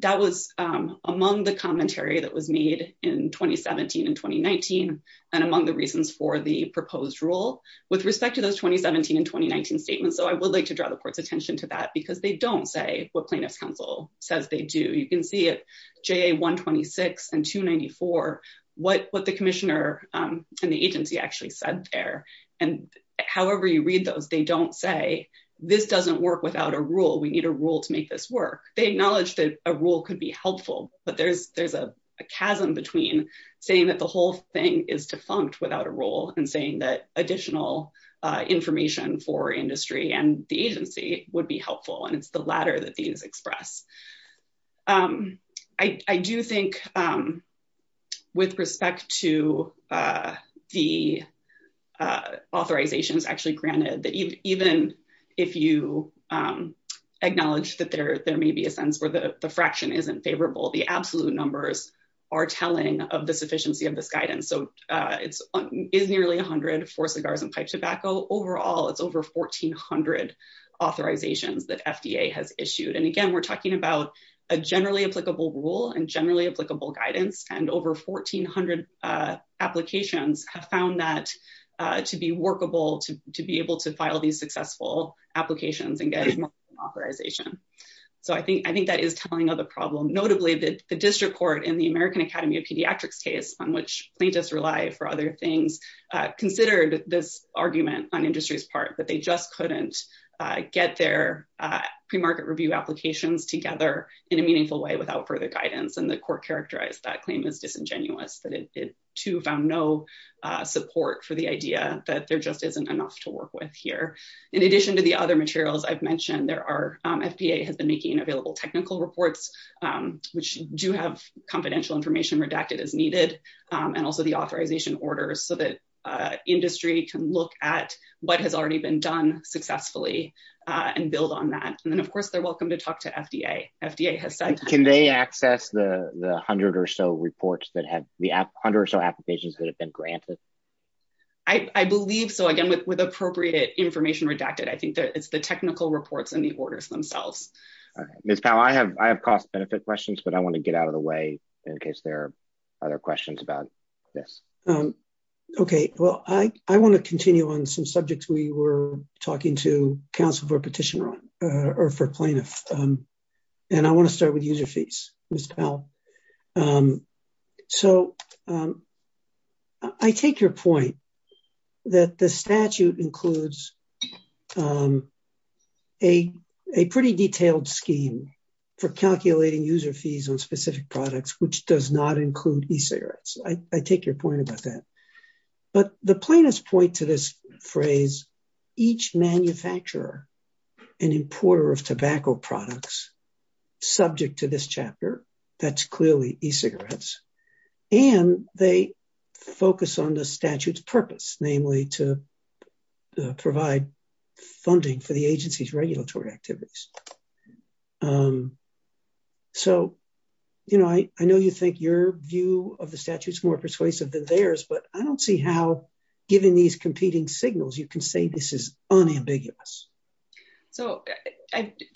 that was among the commentary that was made in 2017 and 2019 and among the reasons for the proposed rule with respect to those 2017 and 2019 statements. So I would like to draw the court's attention to that because they don't say what plaintiff's counsel says they do. You can see it, JA-126 and 294, what the commissioner and the agency actually said there. And however you read those, they don't say, this doesn't work without a rule. We need a rule to make this work. They acknowledge that a rule could be helpful, but there's a chasm between saying that the whole thing is defunct without a rule and saying that additional information for industry and the agency would be helpful. And it's the latter that these express. I do think with respect to the authorizations actually granted that even if you acknowledge that there may be a sense where the fraction isn't favorable, the absolute numbers are telling of the sufficiency of this guidance. So it's nearly 100 for cigars and pipe tobacco. Overall, it's over 1400 authorizations that FDA has issued. And again, we're talking about a generally applicable rule and generally applicable guidance. And over 1400 applications have found that to be workable, to be able to file these successful applications and get authorization. So I think that is telling of the problem. Notably, the district court in the American Academy of Pediatrics case, on which plaintiffs rely for other things, considered this argument on industry's part that they just couldn't get their premarket review applications together in a meaningful way without further guidance. And the court characterized that claim as disingenuous. But it too found no support for the idea that there just isn't enough to work with here. In addition to the other materials I've mentioned, FDA has been making available technical reports, which do have confidential information redacted as needed. And also the authorization orders so that industry can look at what has already been done successfully and build on that. And of course, they're welcome to talk to FDA. FDA has said- Can they access the 100 or so applications that have been granted? I believe so. Again, with appropriate information redacted. I think it's the technical reports and the orders themselves. Okay. Ms. Powell, I have cost-benefit questions, but I want to get out of the way in case there are other questions about this. Okay. Well, I want to continue on some subjects we were talking to counsel for petition on, or for plaintiffs. And I want to start with user fees, Ms. Powell. So I take your point that the statute includes a pretty detailed scheme for calculating user fees on specific products, which does not include e-cigarettes. I take your point about that. But the plaintiffs point to this phrase, each manufacturer and importer of tobacco products, subject to this chapter, that's clearly e-cigarettes. And they focus on the statute's purpose, namely to provide funding for the agency's regulatory activities. So, you know, I know you think your view of the statute is more persuasive than theirs, but I don't see how, given these competing signals, you can say this is unambiguous. So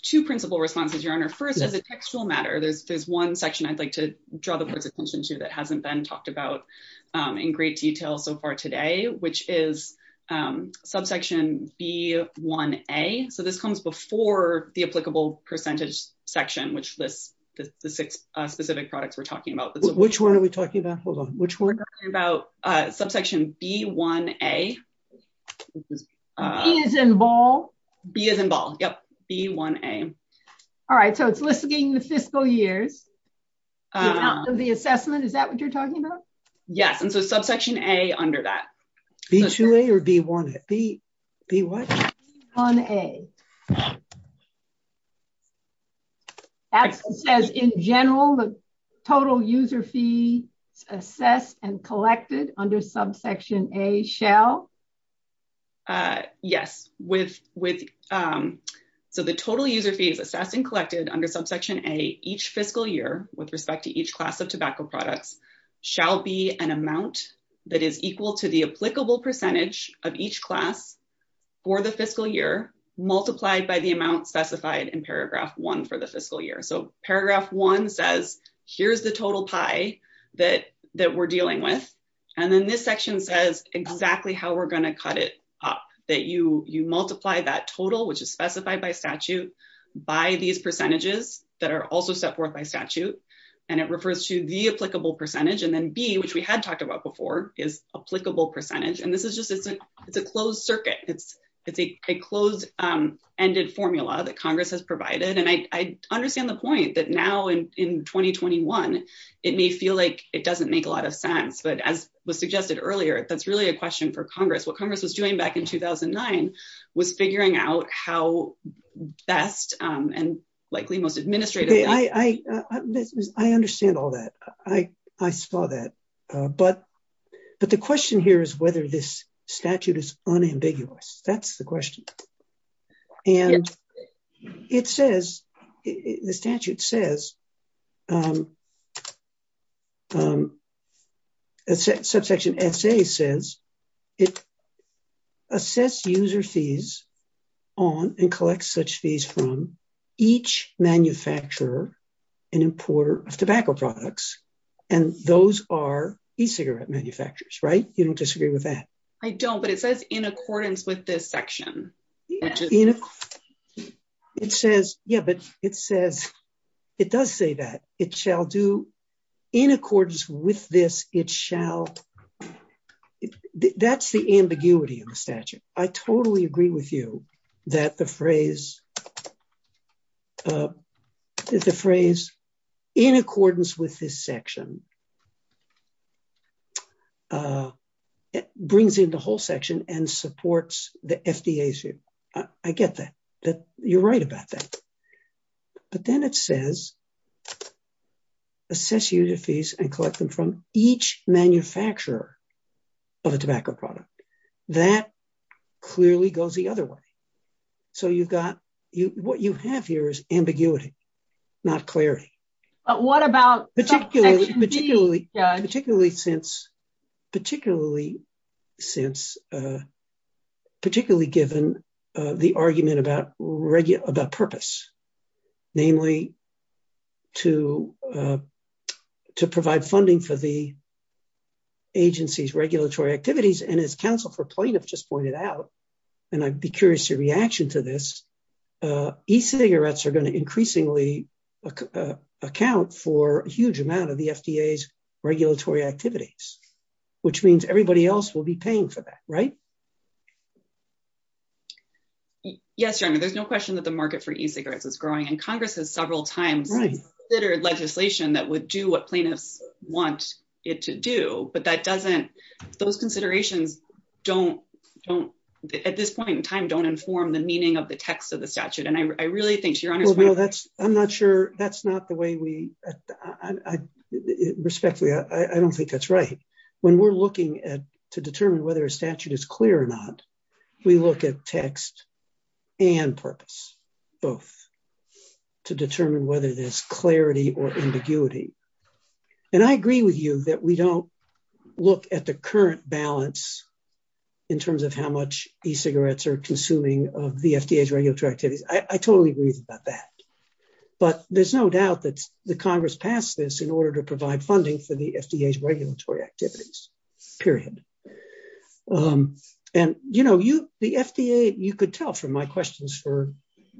two principal responses, Your Honor. First, as a textual matter, there's one section I'd like to draw the person's attention to that hasn't been talked about in great detail so far today, which is subsection B1A. So this comes before the applicable percentage section, which lists the specific products we're talking about. Which one are we talking about? Hold on. Which one? We're talking about subsection B1A. B is involved? B is involved, yep. B1A. All right, so it's listing the fiscal year. The assessment, is that what you're talking about? Yes, and so subsection A under that. B2A or B1A? B1A. As in general, the total user fee assessed and collected under subsection A shall? Yes, so the total user fees assessed and collected under subsection A each fiscal year with respect to each class of tobacco products shall be an amount that is equal to the applicable percentage of each class for the fiscal year. Multiplied by the amount specified in paragraph one for the fiscal year. So paragraph one says, here's the total tie that we're dealing with. And then this section says exactly how we're going to cut it up. That you multiply that total, which is specified by statute, by these percentages that are also set forth by statute. And it refers to the applicable percentage. And then B, which we had talked about before, is applicable percentage. And this is just, it's a closed circuit. It's a closed-ended formula that Congress has provided. And I understand the point that now in 2021, it may feel like it doesn't make a lot of sense. But as was suggested earlier, that's really a question for Congress. What Congress was doing back in 2009 was figuring out how best and likely most administratively. I understand all that. I saw that. But the question here is whether this statute is unambiguous. That's the question. And it says, the statute says, subsection S.A. says, assess user fees on and collect such fees from each manufacturer and importer of tobacco products. And those are e-cigarette manufacturers, right? You don't disagree with that? I don't, but it says in accordance with this section. It says, yeah, but it says, it does say that. It shall do in accordance with this, it shall, that's the ambiguity of the statute. I totally agree with you that the phrase, the phrase, in accordance with this section, it brings in the whole section and supports the FDA issue. I get that. You're right about that. But then it says, assess user fees and collect them from each manufacturer of a tobacco product. That clearly goes the other way. So you've got, what you have here is ambiguity, not clarity. Particularly since, particularly given the argument about purpose, namely to provide funding for the agency's regulatory activities. And as counsel for plaintiffs just pointed out, and I'd be curious to your reaction to this, e-cigarettes are going to increasingly account for a huge amount of the FDA's regulatory activities. Which means everybody else will be paying for that, right? Yes, Jeremy, there's no question that the market for e-cigarettes is growing. And Congress has several times considered legislation that would do what plaintiffs want it to do. But that doesn't, those considerations don't, at this point in time, don't inform the meaning of the text of the statute. And I really think, Your Honor, I'm not sure, that's not the way we, respectfully, I don't think that's right. When we're looking to determine whether a statute is clear or not, we look at text and purpose, both, to determine whether there's clarity or ambiguity. And I agree with you that we don't look at the current balance in terms of how much e-cigarettes are consuming of the FDA's regulatory activities. I totally agree about that. But there's no doubt that the Congress passed this in order to provide funding for the FDA's regulatory activities, period. And, you know, you, the FDA, you could tell from my questions for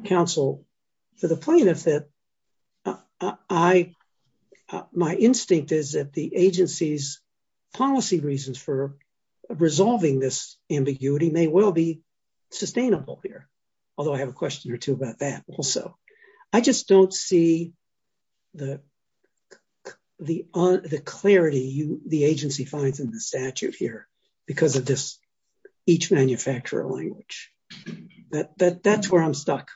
counsel, for the plaintiff, that I, my instinct is that the agency's policy reasons for resolving this ambiguity may well be sustainable here. Although I have a question or two about that also. I just don't see the clarity the agency finds in the statute here because of this each manufacturer language. That's where I'm stuck.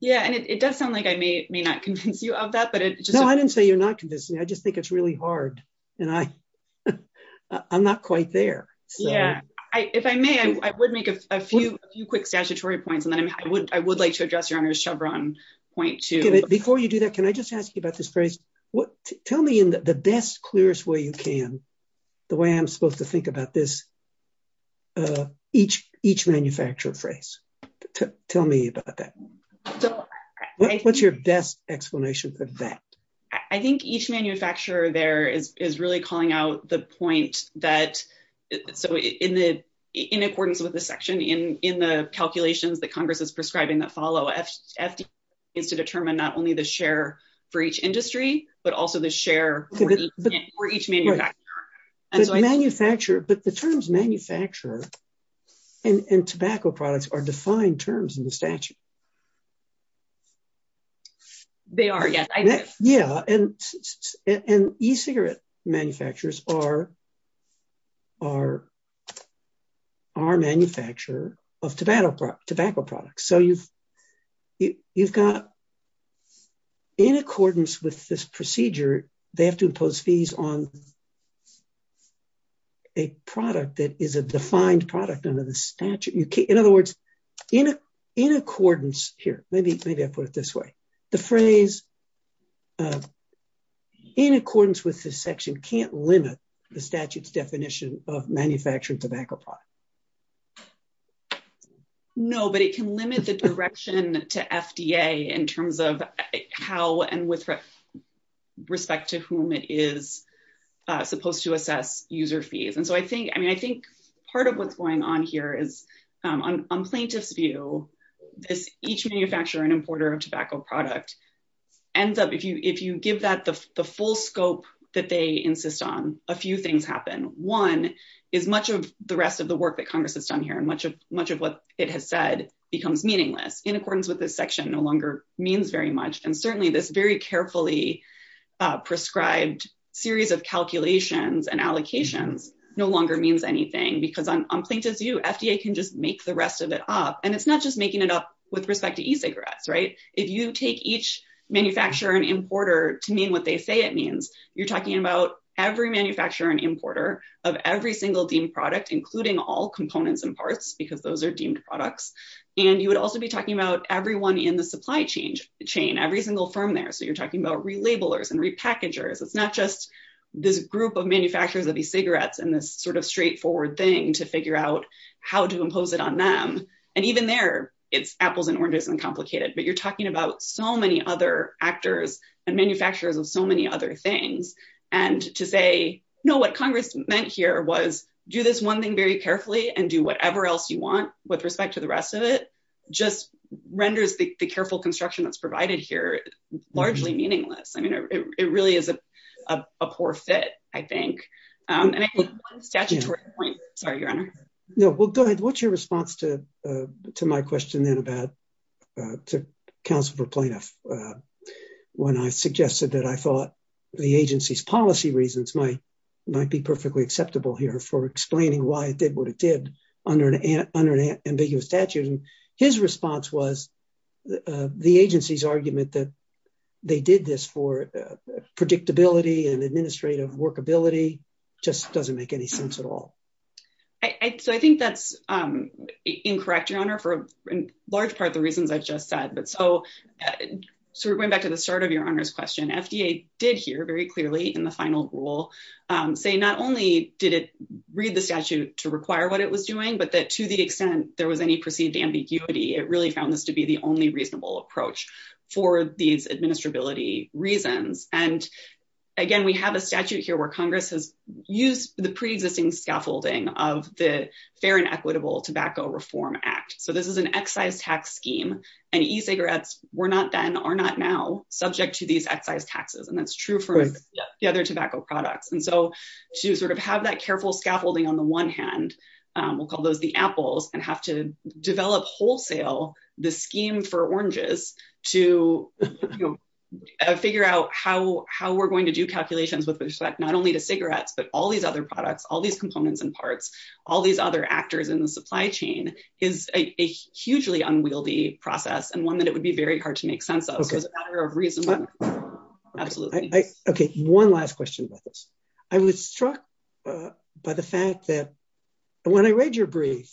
Yeah, and it does sound like I may or may not convince you of that. No, I didn't say you're not convincing. I just think it's really hard, and I'm not quite there. Yeah, if I may, I would make a few quick statutory points, and then I would like to address your own Chevron point, too. Before you do that, can I just ask you about this phrase? Tell me in the best, clearest way you can, the way I'm supposed to think about this, each manufacturer phrase. Tell me about that. What's your best explanation for that? I think each manufacturer there is really calling out the point that, so in accordance with the section in the calculations that Congress is prescribing that follow, it's to determine not only the share for each industry, but also the share for each manufacturer. But the terms manufacturer and tobacco products are defined terms in the statute. They are, yes. Yeah, and e-cigarette manufacturers are manufacturers of tobacco products. So you've got, in accordance with this procedure, they have to impose fees on a product that is a defined product under the statute. In other words, in accordance, here, maybe I'll put it this way, the phrase in accordance with this section can't limit the statute's definition of manufacturing tobacco products. No, but it can limit the direction to FDA in terms of how and with respect to whom it is supposed to assess user fees. And so I think, I mean, I think part of what's going on here is, on plaintiff's view, each manufacturer and importer of tobacco product ends up, if you give that the full scope that they insist on, a few things happen. One is much of the rest of the work that Congress has done here and much of what it has said becomes meaningless. In accordance with this section, no longer means very much. And certainly this very carefully prescribed series of calculations and allocations no longer means anything, because on plaintiff's view, FDA can just make the rest of it up. And it's not just making it up with respect to e-cigarettes, right? If you take each manufacturer and importer to mean what they say it means, you're talking about every manufacturer and importer of every single deemed product, including all components and parts, because those are deemed products. And you would also be talking about everyone in the supply chain, every single firm there. So you're talking about relabelers and repackagers. It's not just this group of manufacturers of these cigarettes and this sort of straightforward thing to figure out how to impose it on them. And even there, it's apples and oranges and complicated. But you're talking about so many other actors and manufacturers of so many other things. And to say, no, what Congress meant here was do this one thing very carefully and do whatever else you want with respect to the rest of it just renders the careful construction that's provided here largely meaningless. I mean, it really is a poor fit, I think. Sorry, Your Honor. No, go ahead. What's your response to my question then about to counsel for plaintiff when I suggested that I thought the agency's policy reasons might be perfectly acceptable here for explaining why it did what it did under an ambiguous statute? His response was the agency's argument that they did this for predictability and administrative workability just doesn't make any sense at all. So I think that's incorrect, Your Honor, for a large part of the reasons I've just said. So we're going back to the start of Your Honor's question. FDA did hear very clearly in the final rule say not only did it read the statute to require what it was doing, but that to the extent there was any perceived ambiguity, it really found this to be the only reasonable approach for these administrability reasons. And again, we have a statute here where Congress has used the pre-existing scaffolding of the Fair and Equitable Tobacco Reform Act. So this is an excise tax scheme, and e-cigarettes were not then, are not now subject to these excise taxes. And that's true for the other tobacco products. And so to sort of have that careful scaffolding on the one hand, we'll call those the apples, and have to develop wholesale the scheme for oranges to figure out how we're going to do calculations with respect not only to cigarettes, but all these other products, all these components and parts, all these other actors in the supply chain, is a hugely unwieldy process, and one that it would be very hard to make sense of as a matter of reason. Absolutely. Okay, one last question about this. I was struck by the fact that when I read your brief,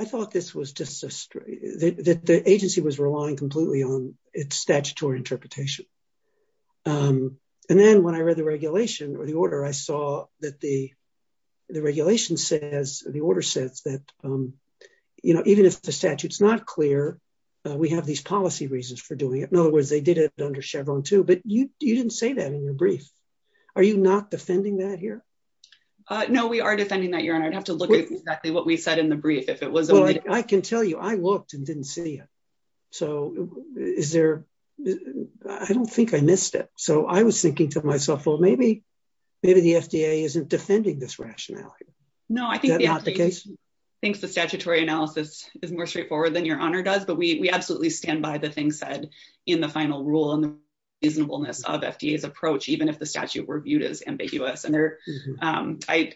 I thought this was just, the agency was relying completely on its statutory interpretation. And then when I read the regulation, or the order, I saw that the regulation says, the order says that, you know, even if the statute's not clear, we have these policy reasons for doing it. In other words, they did it under Chevron, too. But you didn't say that in your brief. Are you not defending that here? No, we are defending that, Your Honor. I'd have to look at exactly what we said in the brief. I can tell you, I looked and didn't see it. So is there, I don't think I missed it. So I was thinking to myself, well, maybe the FDA isn't defending this rationality. No, I think the statutory analysis is more straightforward than Your Honor does, but we absolutely stand by the things said in the final rule and the reasonableness of FDA's approach, even if the statute were viewed as ambiguous. I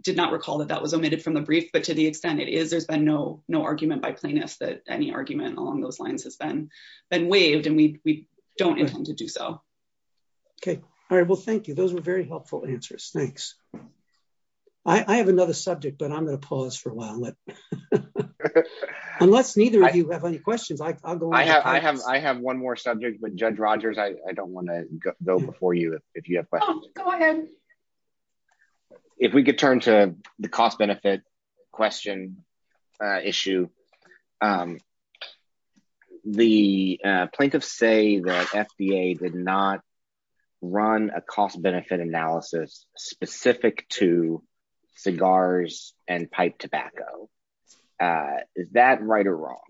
did not recall that that was omitted from the brief, but to the extent it is, there's been no argument by plaintiffs that any argument along those lines has been waived, and we don't intend to do so. Okay. All right. Well, thank you. Those were very helpful answers. Thanks. I have another subject, but I'm going to pause for a while. Unless neither of you have any questions, I'll go ahead. I have one more subject, but Judge Rogers, I don't want to go before you if you have questions. Go ahead. If we could turn to the cost-benefit question issue. The plaintiffs say that FDA did not run a cost-benefit analysis specific to cigars and pipe tobacco. Is that right or wrong?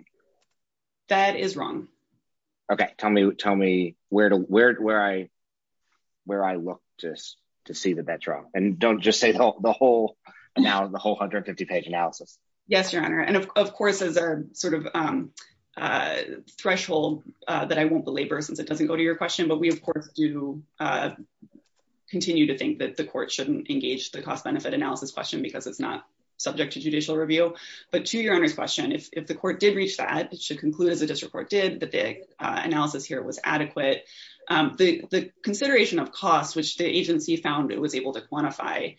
That is wrong. Okay. Tell me where I look to see that that's wrong, and don't just say the whole 150-page analysis. Yes, Your Honor. And, of course, there's a sort of threshold that I won't belabor since it doesn't go to your question, but we, of course, do continue to think that the court shouldn't engage the cost-benefit analysis question because it's not subject to judicial review. But to Your Honor's question, if the court did reach that, it should conclude that the district court did, but the analysis here was adequate. The consideration of cost, which the agency found it was able to quantify,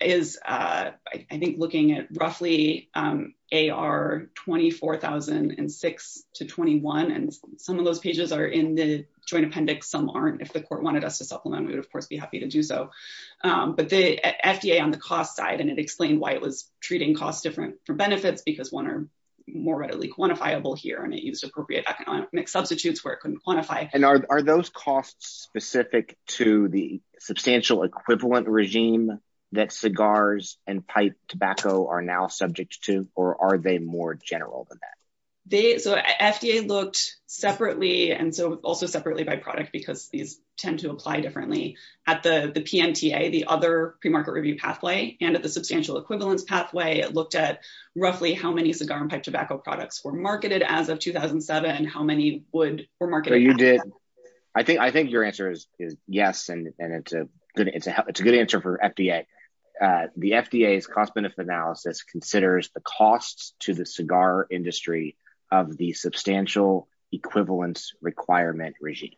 is, I think, looking at roughly AR 24006-21. And some of those pages are in the joint appendix. Some aren't. If the court wanted us to supplement, we would, of course, be happy to do so. But the FDA on the cost side, and it explained why it was treating costs different from benefits because one are more readily quantifiable here, and it used appropriate economic substitutes where it couldn't quantify. And are those costs specific to the substantial equivalent regime that cigars and pipe tobacco are now subject to, or are they more general than that? The FDA looked separately, and so also separately by product, because these tend to apply differently. At the PMTA, the other premarket review pathway, and at the substantial equivalence pathway, it looked at roughly how many cigar and pipe tobacco products were marketed as of 2007, how many were marketed. So you did. I think your answer is yes, and it's a good answer for FDA. The FDA's cost-benefit analysis considers the cost to the cigar industry of the substantial equivalence requirement regime.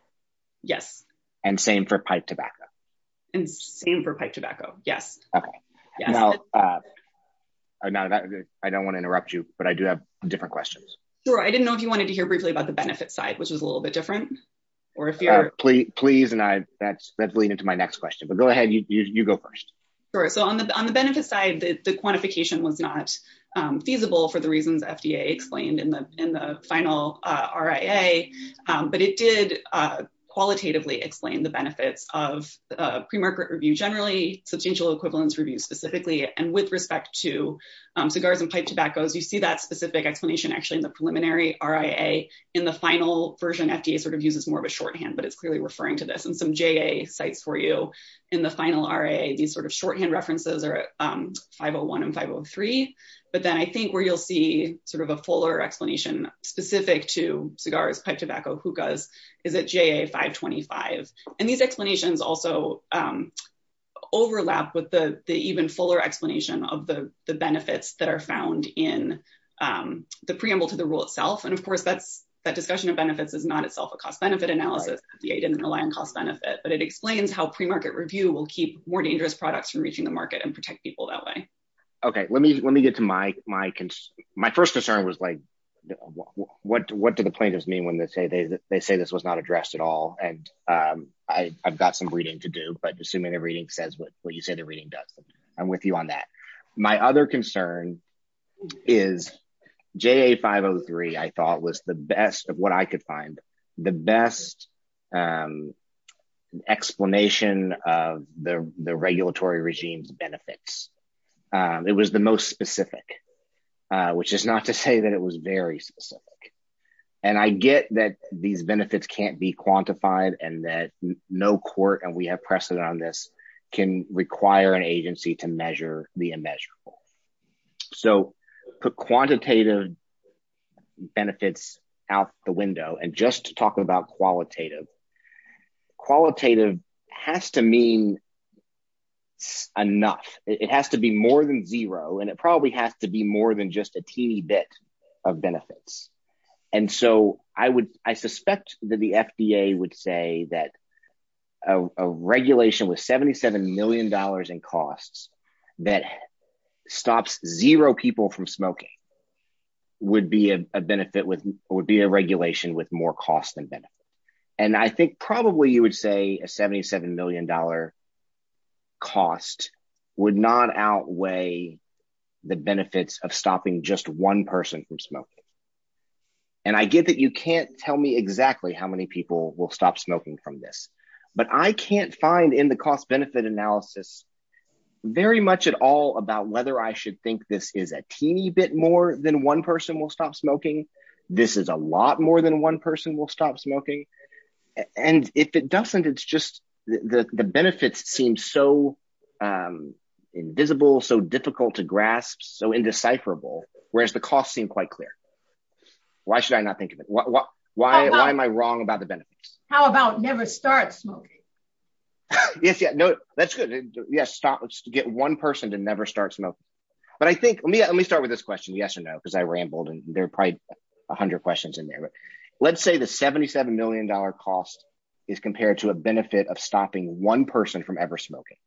Yes. And same for pipe tobacco. And same for pipe tobacco, yes. Okay. Now, I don't want to interrupt you, but I do have different questions. Sure. I didn't know if you wanted to hear briefly about the benefit side, which was a little bit different. Please, and that's leading to my next question. But go ahead. You go first. Sure. So on the benefit side, the quantification was not feasible for the reasons FDA explained in the final RIA. But it did qualitatively explain the benefits of premarket review generally, substantial equivalence review specifically. And with respect to cigars and pipe tobaccos, you see that specific explanation actually in the preliminary RIA. In the final version, FDA sort of uses more of a shorthand, but it's clearly referring to this. And some JA sites for you in the final RIA, these sort of shorthand references are 501 and 503. But then I think where you'll see sort of a fuller explanation specific to cigars, pipe tobacco, hookahs, is at JA 525. And these explanations also overlap with the even fuller explanation of the benefits that are found in the preamble to the rule itself. And, of course, that discussion of benefits is not itself a cost-benefit analysis. FDA didn't rely on cost-benefit. But it explains how premarket review will keep more dangerous products from reaching the market and protect people that way. Okay. Let me get to my first concern was, like, what do the plaintiffs mean when they say this was not addressed at all? And I've got some reading to do, but assuming the reading says what you say the reading does, I'm with you on that. My other concern is JA 503, I thought, was the best of what I could find, the best explanation of the regulatory regime's benefits. It was the most specific, which is not to say that it was very specific. And I get that these benefits can't be quantified and that no court, and we have precedent on this, can require an agency to measure the unmeasurable. So put quantitative benefits out the window. And just to talk about qualitative, qualitative has to mean enough. It has to be more than zero, and it probably has to be more than just a teeny bit of benefits. And so I would, I suspect that the FDA would say that a regulation with $77 million in costs that stops zero people from smoking would be a benefit, would be a regulation with more cost than benefit. And I think probably you would say a $77 million cost would not outweigh the benefits of stopping just one person from smoking. And I get that you can't tell me exactly how many people will stop smoking from this. But I can't find in the cost-benefit analysis very much at all about whether I should think this is a teeny bit more than one person will stop smoking. This is a lot more than one person will stop smoking. And if it doesn't, it's just the benefits seem so invisible, so difficult to grasp, so indecipherable, whereas the costs seem quite clear. Why should I not think of it? Why am I wrong about the benefits? How about never start smoking? Yes, yeah, no, that's good. Yes, stop, let's get one person to never start smoking. But I think, let me start with this question, yes or no, because I rambled, and there are probably 100 questions in there. But let's say the $77 million cost is compared to a benefit of stopping one person from ever smoking.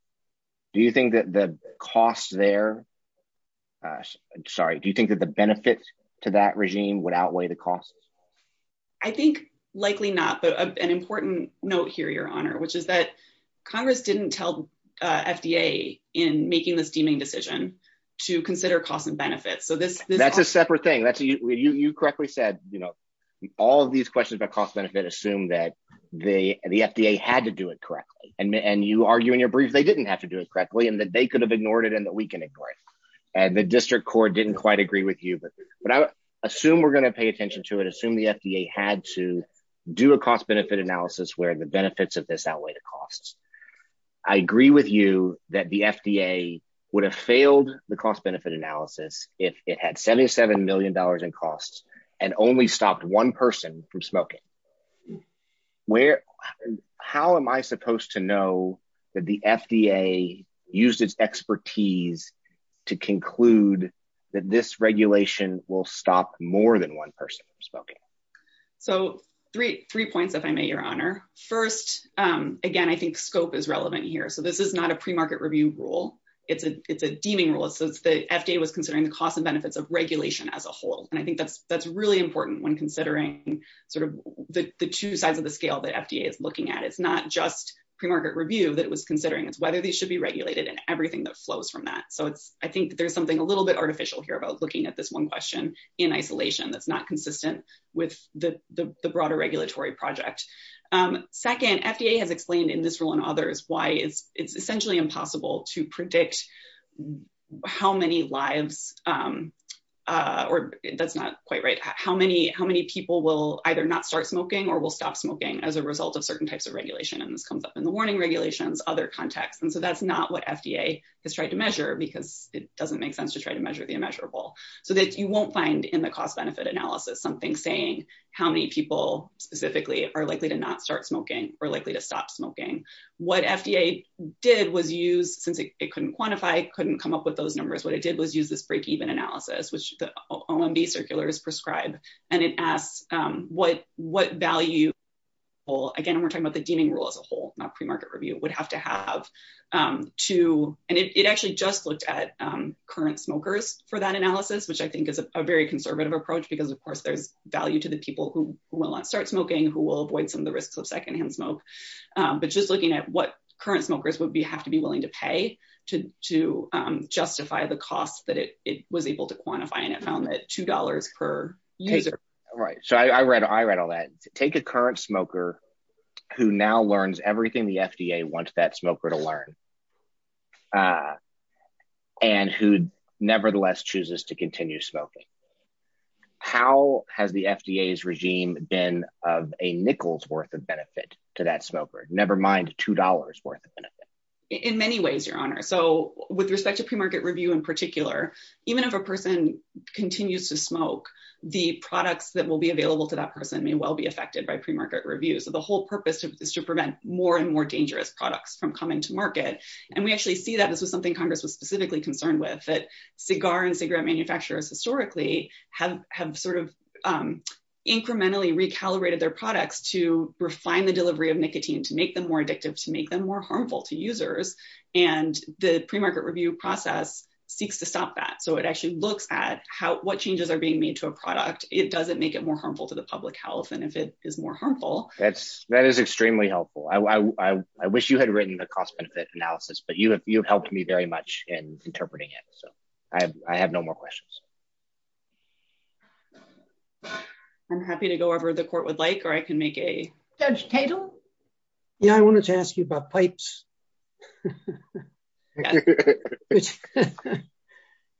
Do you think that the costs there, sorry, do you think that the benefits to that regime would outweigh the costs? I think likely not, but an important note here, Your Honor, which is that Congress didn't tell FDA in making this deeming decision to consider costs and benefits. That's a separate thing. You correctly said all of these questions about cost-benefit assume that the FDA had to do it correctly. And you argue in your brief they didn't have to do it correctly and that they could have ignored it and that we can ignore it. And the district court didn't quite agree with you. But I assume we're going to pay attention to it, assume the FDA had to do a cost-benefit analysis where the benefits of this outweigh the costs. I agree with you that the FDA would have failed the cost-benefit analysis if it had $77 million in costs and only stopped one person from smoking. How am I supposed to know that the FDA used its expertise to conclude that this regulation will stop more than one person from smoking? So three points, if I may, Your Honor. First, again, I think scope is relevant here. So this is not a premarket review rule. It's a deeming rule. The FDA was considering the costs and benefits of regulation as a whole. And I think that's really important when considering sort of the two sides of the scale that FDA is looking at. It's not just premarket review that it was considering. It's whether these should be regulated and everything that flows from that. So I think there's something a little bit artificial here about looking at this one question in isolation that's not consistent with the broader regulatory project. Second, FDA has explained in this rule and others why it's essentially impossible to predict how many lives or that's not quite right, how many people will either not start smoking or will stop smoking as a result of certain types of regulation. And this comes up in the warning regulations, other contexts. And so that's not what FDA has tried to measure because it doesn't make sense to try to measure the immeasurable. So that you won't find in the cost-benefit analysis something saying how many people specifically are likely to not start smoking or likely to stop smoking. What FDA did was use, since it couldn't quantify, couldn't come up with those numbers, what it did was use this break-even analysis, which the OMB circular is prescribed. And it asks what value, again, we're talking about the deeming rule as a whole, not premarket review, would have to have to. And it actually just looked at current smokers for that analysis, which I think is a very conservative approach because, of course, there's value to the people who will not start smoking, who will avoid some of the risks of secondhand smoke. But just looking at what current smokers would have to be willing to pay to justify the cost that it was able to quantify and it found that $2 per user. Right. So I read all that. Take a current smoker who now learns everything the FDA wants that smoker to learn and who nevertheless chooses to continue smoking. How has the FDA's regime been of a nickel's worth of benefit to that smoker, never mind $2 worth of benefit? In many ways, Your Honor. So with respect to premarket review in particular, even if a person continues to smoke, the products that will be available to that person may well be affected by premarket review. So the whole purpose is to prevent more and more dangerous products from coming to market. And we actually see that this is something Congress was specifically concerned with, that cigar and cigarette manufacturers historically have sort of incrementally recalibrated their products to refine the delivery of nicotine, to make them more addictive, to make them more harmful to users. And the premarket review process seeks to stop that. So it actually looks at what changes are being made to a product. It doesn't make it more harmful to the public health. And if it is more harmful. That is extremely helpful. I wish you had written the cost benefit analysis, but you have helped me very much in interpreting it. So I have no more questions. I'm happy to go over the court would like or I can make a judge table. I wanted to ask you about pipes.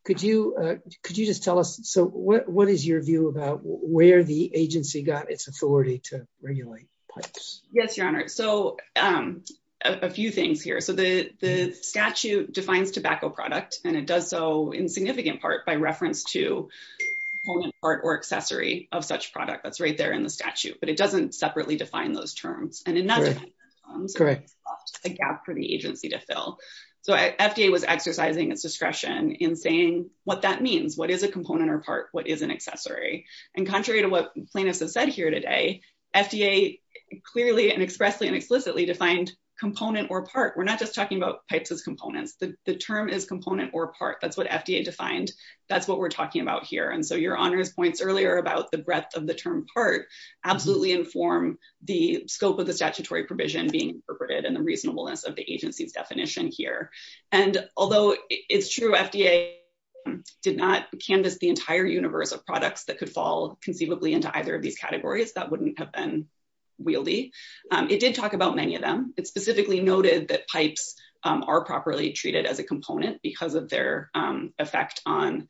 Could you could you just tell us. So what is your view about where the agency got its authority to regulate pipes? Yes, Your Honor. So a few things here. So the statute defines tobacco product and it does so in significant part by reference to part or accessory of such product that's right there in the statute. But it doesn't separately define those terms. And another. Correct. A gap for the agency to fill. So FDA was exercising its discretion in saying what that means. What is a component or part? What is an accessory? And contrary to what plaintiffs have said here today, FDA clearly and expressly and explicitly defined component or part. We're not just talking about pipes as components. The term is component or part. That's what FDA defined. That's what we're talking about here. And so Your Honor's points earlier about the breadth of the term part absolutely inform the scope of the statutory provision being interpreted and the reasonableness of the agency's definition here. And although it's true, FDA did not canvass the entire universe of products that could fall conceivably into either of these categories, that wouldn't have been wieldy. It did talk about many of them. It specifically noted that pipes are properly treated as a component because of their effect on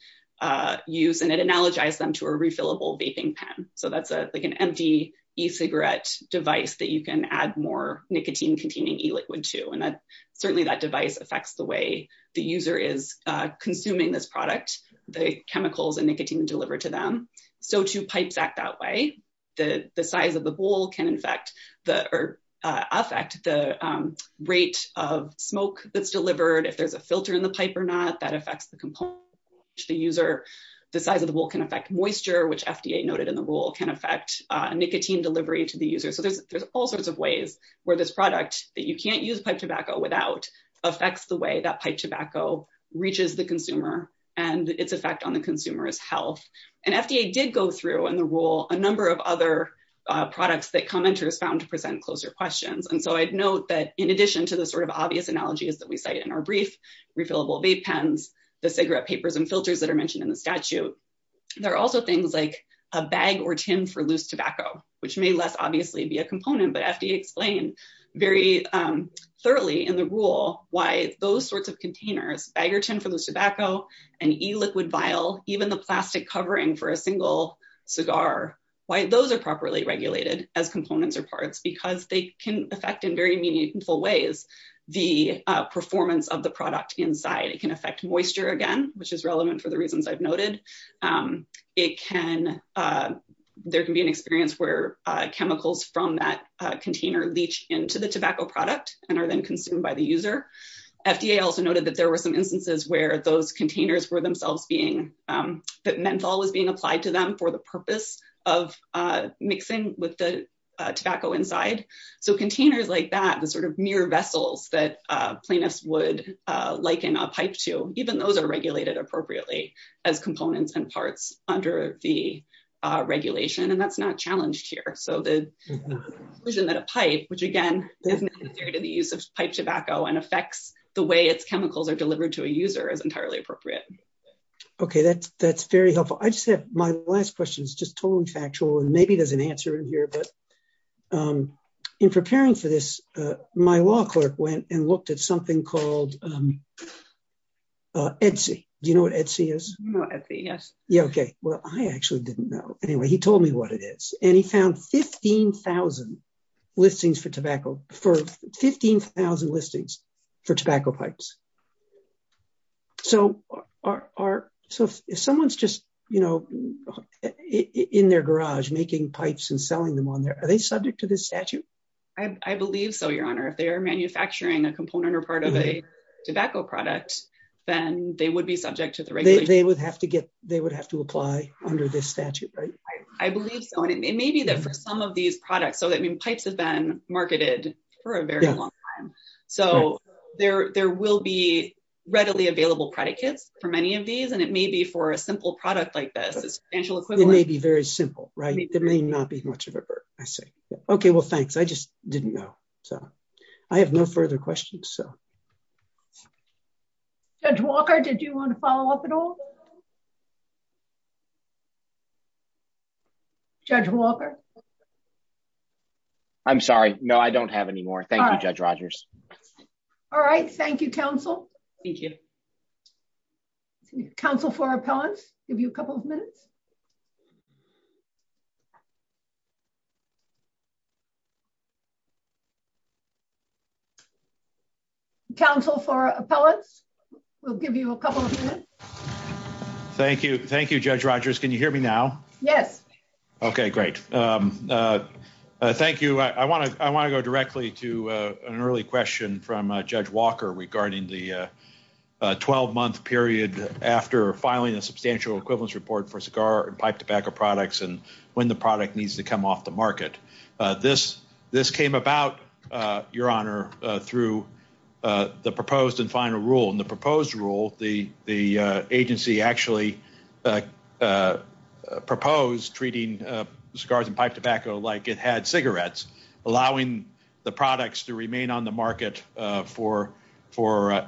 use. And it analogized them to a refillable vaping pen. So that's like an empty e-cigarette device that you can add more nicotine containing e-liquid to. And that's certainly that device affects the way the user is consuming this product, the chemicals and nicotine delivered to them. So two pipes act that way. The size of the bowl can affect the rate of smoke that's delivered. If there's a filter in the pipe or not, that affects the component to the user. The size of the bowl can affect moisture, which FDA noted in the rule can affect nicotine delivery to the user. So there's all sorts of ways where this product that you can't use pipe tobacco without affects the way that pipe tobacco reaches the consumer and its effect on the consumer's health. And FDA did go through in the rule a number of other products that commenters found to present closer questions. And so I'd note that in addition to the sort of obvious analogies that we cited in our brief, refillable vape pens, the cigarette papers and filters that are mentioned in the statute, there are also things like a bag or tin for loose tobacco, which may less obviously be a component, but FDA explained very thoroughly in the rule why those sorts of containers, a bag or tin for the tobacco, an e-liquid vial, even the plastic covering for a single cigar, why those are properly regulated as components or parts, because they can affect in very meaningful ways the performance of the product inside. It can affect moisture again, which is relevant for the reasons I've noted. There can be an experience where chemicals from that container leach into the tobacco product and are then consumed by the user. FDA also noted that there were some instances where those containers were themselves being, that menthol was being applied to them for the purpose of mixing with the tobacco inside. So containers like that, the sort of mere vessels that plaintiffs would liken a pipe to, even though they're regulated appropriately as components and parts under the regulation, and that's not challenged here. So the conclusion that a pipe, which again, isn't considered to be used as pipe tobacco and affects the way it's chemical or delivered to a user is entirely appropriate. OK, that's very helpful. I just have my last question. It's just totally factual. Maybe there's an answer in here, but in preparing for this, my law clerk went and looked at something called Etsy. Do you know what Etsy is? No, Etsy, yes. OK, well, I actually didn't know. Anyway, he told me what it is, and he found 15,000 listings for tobacco, for 15,000 listings for tobacco pipes. So are, so if someone's just, you know, in their garage making pipes and selling them on there, are they subject to this statute? I believe so, Your Honor. If they're manufacturing a component or part of a tobacco product, then they would be subject to the regulation. They would have to get, they would have to apply under this statute, right? I believe so, and it may be that for some of these products, so I mean, pipes have been marketed for a very long time. So there will be readily available product kits for many of these, and it may be for a simple product like this. It may be very simple, right? It may not be much of a burden, I say. OK, well, thanks. I just didn't know. So I have no further questions, so. Judge Walker, did you want to follow up at all? Judge Walker? I'm sorry. No, I don't have any more. Thank you, Judge Rogers. All right. Thank you, counsel. Thank you. Counsel for appellant, give you a couple of minutes. Thank you. Thank you, Judge Rogers. Can you hear me now? Yes. OK, great. Thank you. I want to I want to go directly to an early question from Judge Walker regarding the 12 month period after filing a substantial equivalence report for cigar and pipe tobacco products and when the product needs to come off the market. This came about, Your Honor, through the proposed and final rule. In the proposed rule, the agency actually proposed treating cigars and pipe tobacco like it had cigarettes, allowing the products to remain on the market for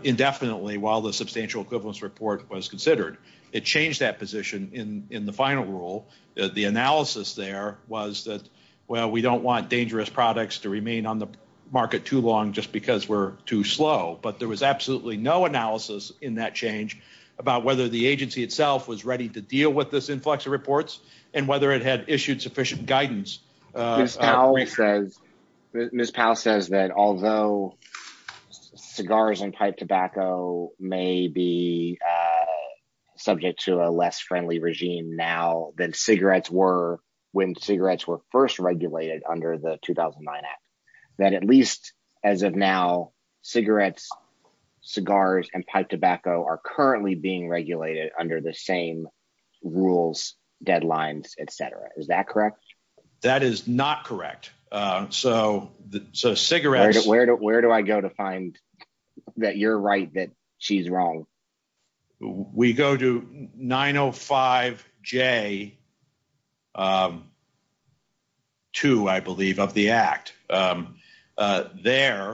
indefinitely while the substantial equivalence report was considered. It changed that position in the final rule. The analysis there was that, well, we don't want dangerous products to remain on the market too long just because we're too slow. But there was absolutely no analysis in that change about whether the agency itself was ready to deal with this influx of reports and whether it had issued sufficient guidance. Ms. Powell says that although cigars and pipe tobacco may be subject to a less friendly regime now than cigarettes were when cigarettes were first regulated under the 2009 Act, that at least as of now, cigarettes, cigars and pipe tobacco are currently being regulated under the same rules, deadlines, etc. Is that correct? That is not correct. Where do I go to find that you're right, that she's wrong? We go to 905J2, I believe, of the Act. There,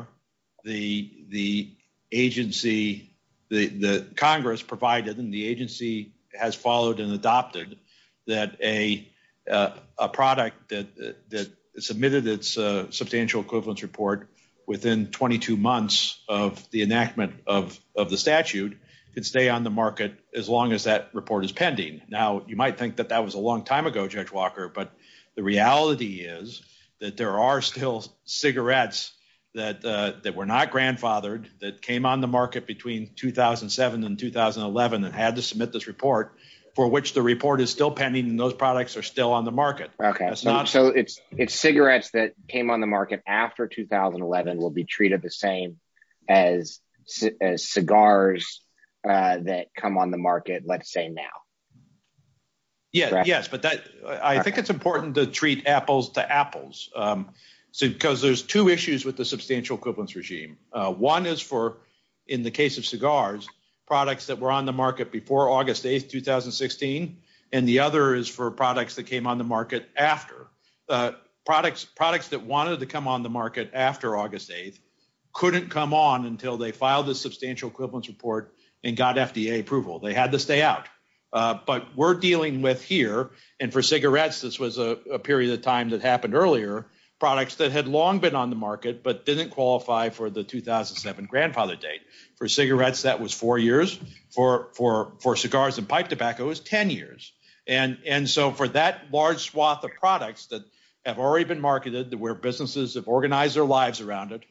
the agency, the Congress provided and the agency has followed and adopted that a product that submitted its substantial equivalence report within 22 months of the enactment of the statute could stay on the market as long as that report is pending. Now, you might think that that was a long time ago, Judge Walker, but the reality is that there are still cigarettes that were not grandfathered, that came on the market between 2007 and 2011 and had to submit this report for which the report is still pending and those products are still on the market. So it's cigarettes that came on the market after 2011 will be treated the same as cigars that come on the market, let's say, now. Yes, but I think it's important to treat apples to apples because there's two issues with the substantial equivalence regime. One is for, in the case of cigars, products that were on the market before August 8, 2016, and the other is for products that came on the market after. Products that wanted to come on the market after August 8 couldn't come on until they filed the substantial equivalence report and got FDA approval. They had to stay out. But we're dealing with here, and for cigarettes, this was a period of time that happened earlier, products that had long been on the market but didn't qualify for the 2007 grandfather date. For cigarettes, that was four years. For cigars and pipe tobacco, it was 10 years. And so for that large swath of products that have already been marketed, that where businesses have organized their lives around it,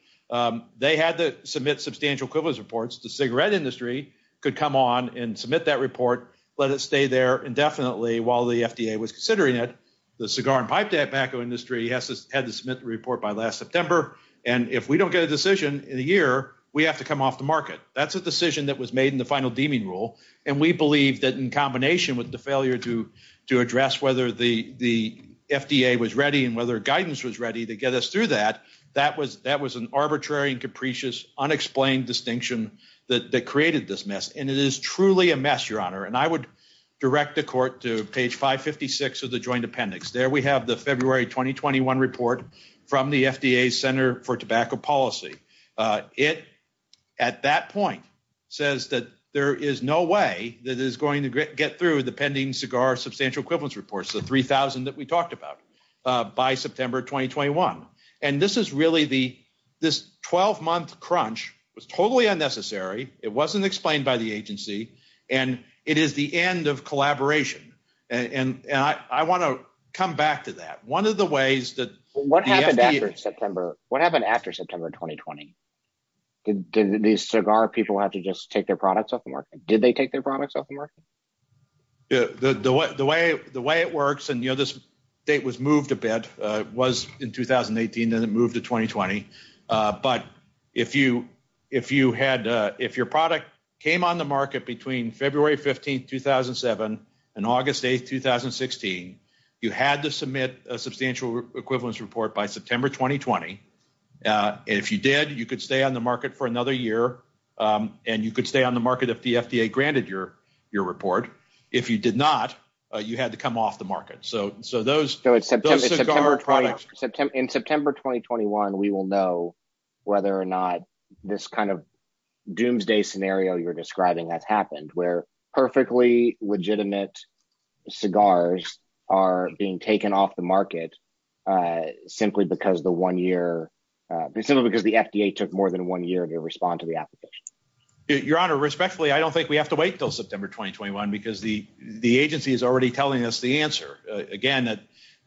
they had to submit substantial equivalence reports. The cigarette industry could come on and submit that report, let it stay there indefinitely while the FDA was considering it. The cigar and pipe tobacco industry had to submit the report by last September, and if we don't get a decision in a year, we have to come off the market. That's a decision that was made in the final deeming rule, and we believe that in combination with the failure to address whether the FDA was ready and whether guidance was ready to get us through that, that was an arbitrary and capricious, unexplained distinction that created this mess. And it is truly a mess, Your Honor, and I would direct the court to page 556 of the joint appendix. There we have the February 2021 report from the FDA's Center for Tobacco Policy. It, at that point, says that there is no way that it is going to get through the pending cigar substantial equivalence reports, the 3,000 that we talked about, by September 2021. And this is really the, this 12-month crunch was totally unnecessary. It wasn't explained by the agency, and it is the end of collaboration. And I want to come back to that. What happened after September 2020? Did these cigar people have to just take their products off the market? Did they take their products off the market? The way it works, and this date was moved a bit. It was in 2018, then it moved to 2020. But if you had, if your product came on the market between February 15, 2007, and August 8, 2016, you had to submit a substantial equivalence report by September 2020. And if you did, you could stay on the market for another year, and you could stay on the market if the FDA granted your report. If you did not, you had to come off the market. So those cigar products. In September 2021, we will know whether or not this kind of doomsday scenario you're describing has happened, where perfectly legitimate cigars are being taken off the market, simply because the one year, simply because the FDA took more than one year to respond to the application. Your Honor, respectfully, I don't think we have to wait until September 2021, because the agency is already telling us the answer. Again,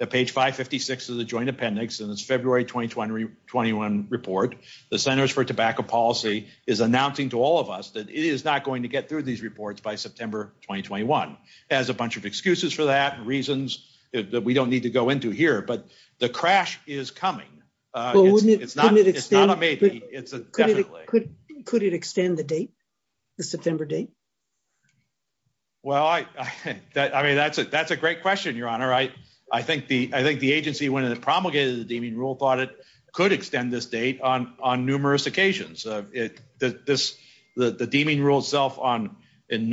at page 556 of the Joint Appendix in its February 2021 report, the Centers for Tobacco Policy is announcing to all of us that it is not going to get through these reports by September 2021. It has a bunch of excuses for that and reasons that we don't need to go into here, but the crash is coming. It's not a maybe, it's a definitely. Could it extend the date, the September date? Well, I mean, that's a great question, Your Honor. I think the agency, when it promulgated the deeming rules audit, could extend this date on numerous occasions. The deeming rule itself in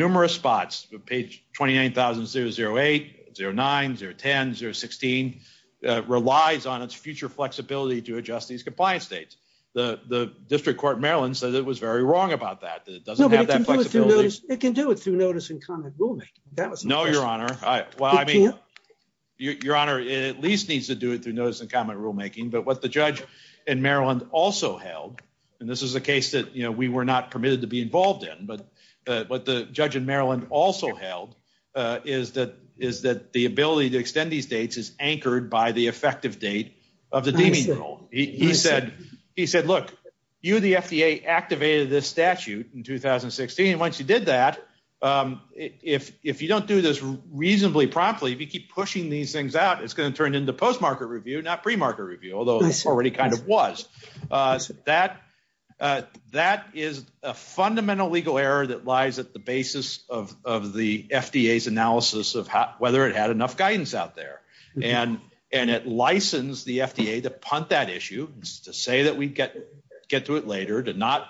numerous spots, page 29,008, 09, 010, 016, relies on its future flexibility to adjust these compliance dates. The District Court of Maryland said it was very wrong about that. It doesn't have that flexibility. It can do it through notice and comment rulemaking. No, Your Honor. It can't? But what the judge in Maryland also held, and this is a case that, you know, we were not permitted to be involved in, but what the judge in Maryland also held is that the ability to extend these dates is anchored by the effective date of the deeming rule. He said, look, you, the FDA, activated this statute in 2016. Once you did that, if you don't do this reasonably properly, if you keep pushing these things out, it's going to turn into post-market review, not pre-market review, although it already kind of was. That is a fundamental legal error that lies at the basis of the FDA's analysis of whether it had enough guidance out there. And it licensed the FDA to punt that issue, to say that we'd get to it later, to not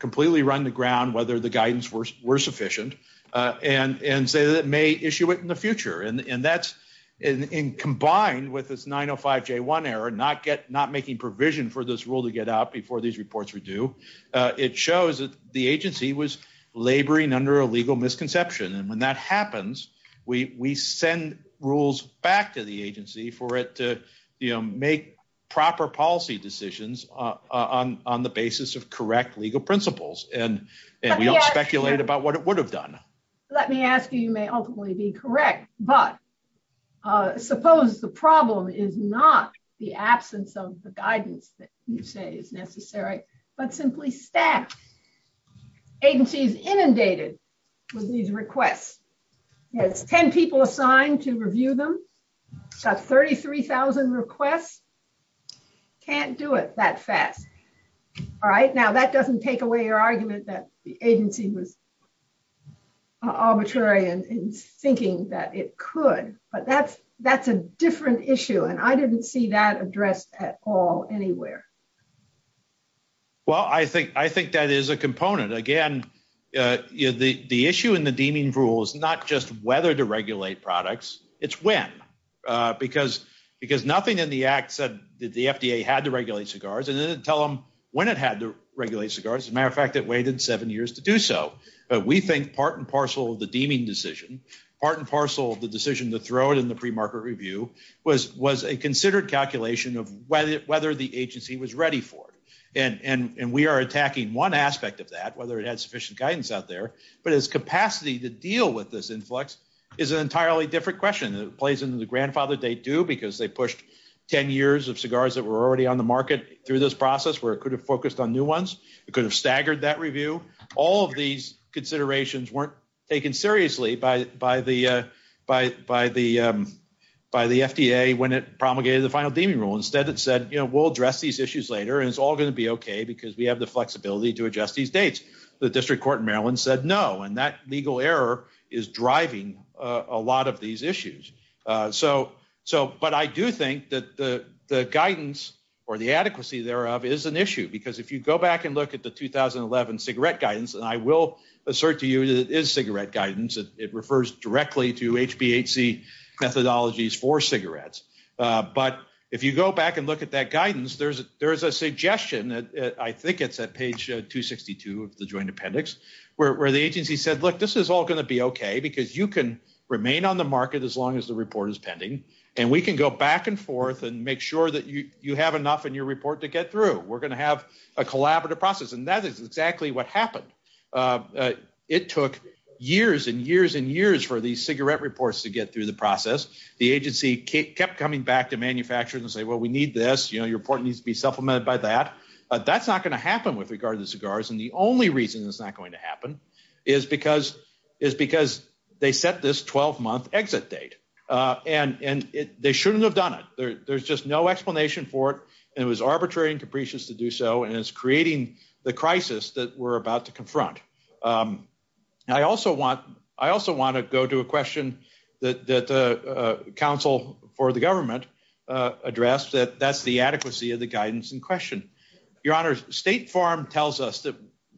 completely run the ground whether the guidance were sufficient, and say that it may issue it in the future. And that's, combined with this 905J1 error, not making provision for this rule to get out before these reports were due, it shows that the agency was laboring under a legal misconception. And when that happens, we send rules back to the agency for it to make proper policy decisions on the basis of correct legal principles. And we don't speculate about what it would have done. Let me ask you, you may ultimately be correct, but suppose the problem is not the absence of the guidance that you say is necessary, but simply staff. Agencies inundated with these requests. There's 10 people assigned to review them. It's got 33,000 requests. Can't do it that fast. All right, now that doesn't take away your argument that the agency was arbitrary in thinking that it could. But that's a different issue, and I didn't see that addressed at all anywhere. Well, I think that is a component. Again, the issue in the deeming rule is not just whether to regulate products, it's when. Because nothing in the act said that the FDA had to regulate cigars, and it didn't tell them when it had to regulate cigars. As a matter of fact, it waited seven years to do so. But we think part and parcel of the deeming decision, part and parcel of the decision to throw it in the pre-market review, was a considered calculation of whether the agency was ready for it. And we are attacking one aspect of that, whether it has sufficient guidance out there. But its capacity to deal with this influx is an entirely different question. It plays into the grandfather date, too, because they pushed 10 years of cigars that were already on the market through this process where it could have focused on new ones. It could have staggered that review. All of these considerations weren't taken seriously by the FDA when it promulgated the final deeming rule. Instead, it said, you know, we'll address these issues later, and it's all going to be okay because we have the flexibility to adjust these dates. The district court in Maryland said no, and that legal error is driving a lot of these issues. But I do think that the guidance or the adequacy thereof is an issue because if you go back and look at the 2011 cigarette guidance, and I will assert to you that it is cigarette guidance. It refers directly to HBHC methodologies for cigarettes. But if you go back and look at that guidance, there's a suggestion, I think it's at page 262 of the joint appendix, where the agency said, look, this is all going to be okay because you can remain on the market as long as the report is pending. And we can go back and forth and make sure that you have enough in your report to get through. We're going to have a collaborative process. And that is exactly what happened. It took years and years and years for these cigarette reports to get through the process. The agency kept coming back to manufacturers and saying, well, we need this. Your report needs to be supplemented by that. That's not going to happen with regard to cigars, and the only reason it's not going to happen is because they set this 12-month exit date. And they shouldn't have done it. There's just no explanation for it, and it was arbitrary and capricious to do so, and it's creating the crisis that we're about to confront. I also want to go to a question that the counsel for the government addressed, that that's the adequacy of the guidance in question. Your Honor, State Farm tells us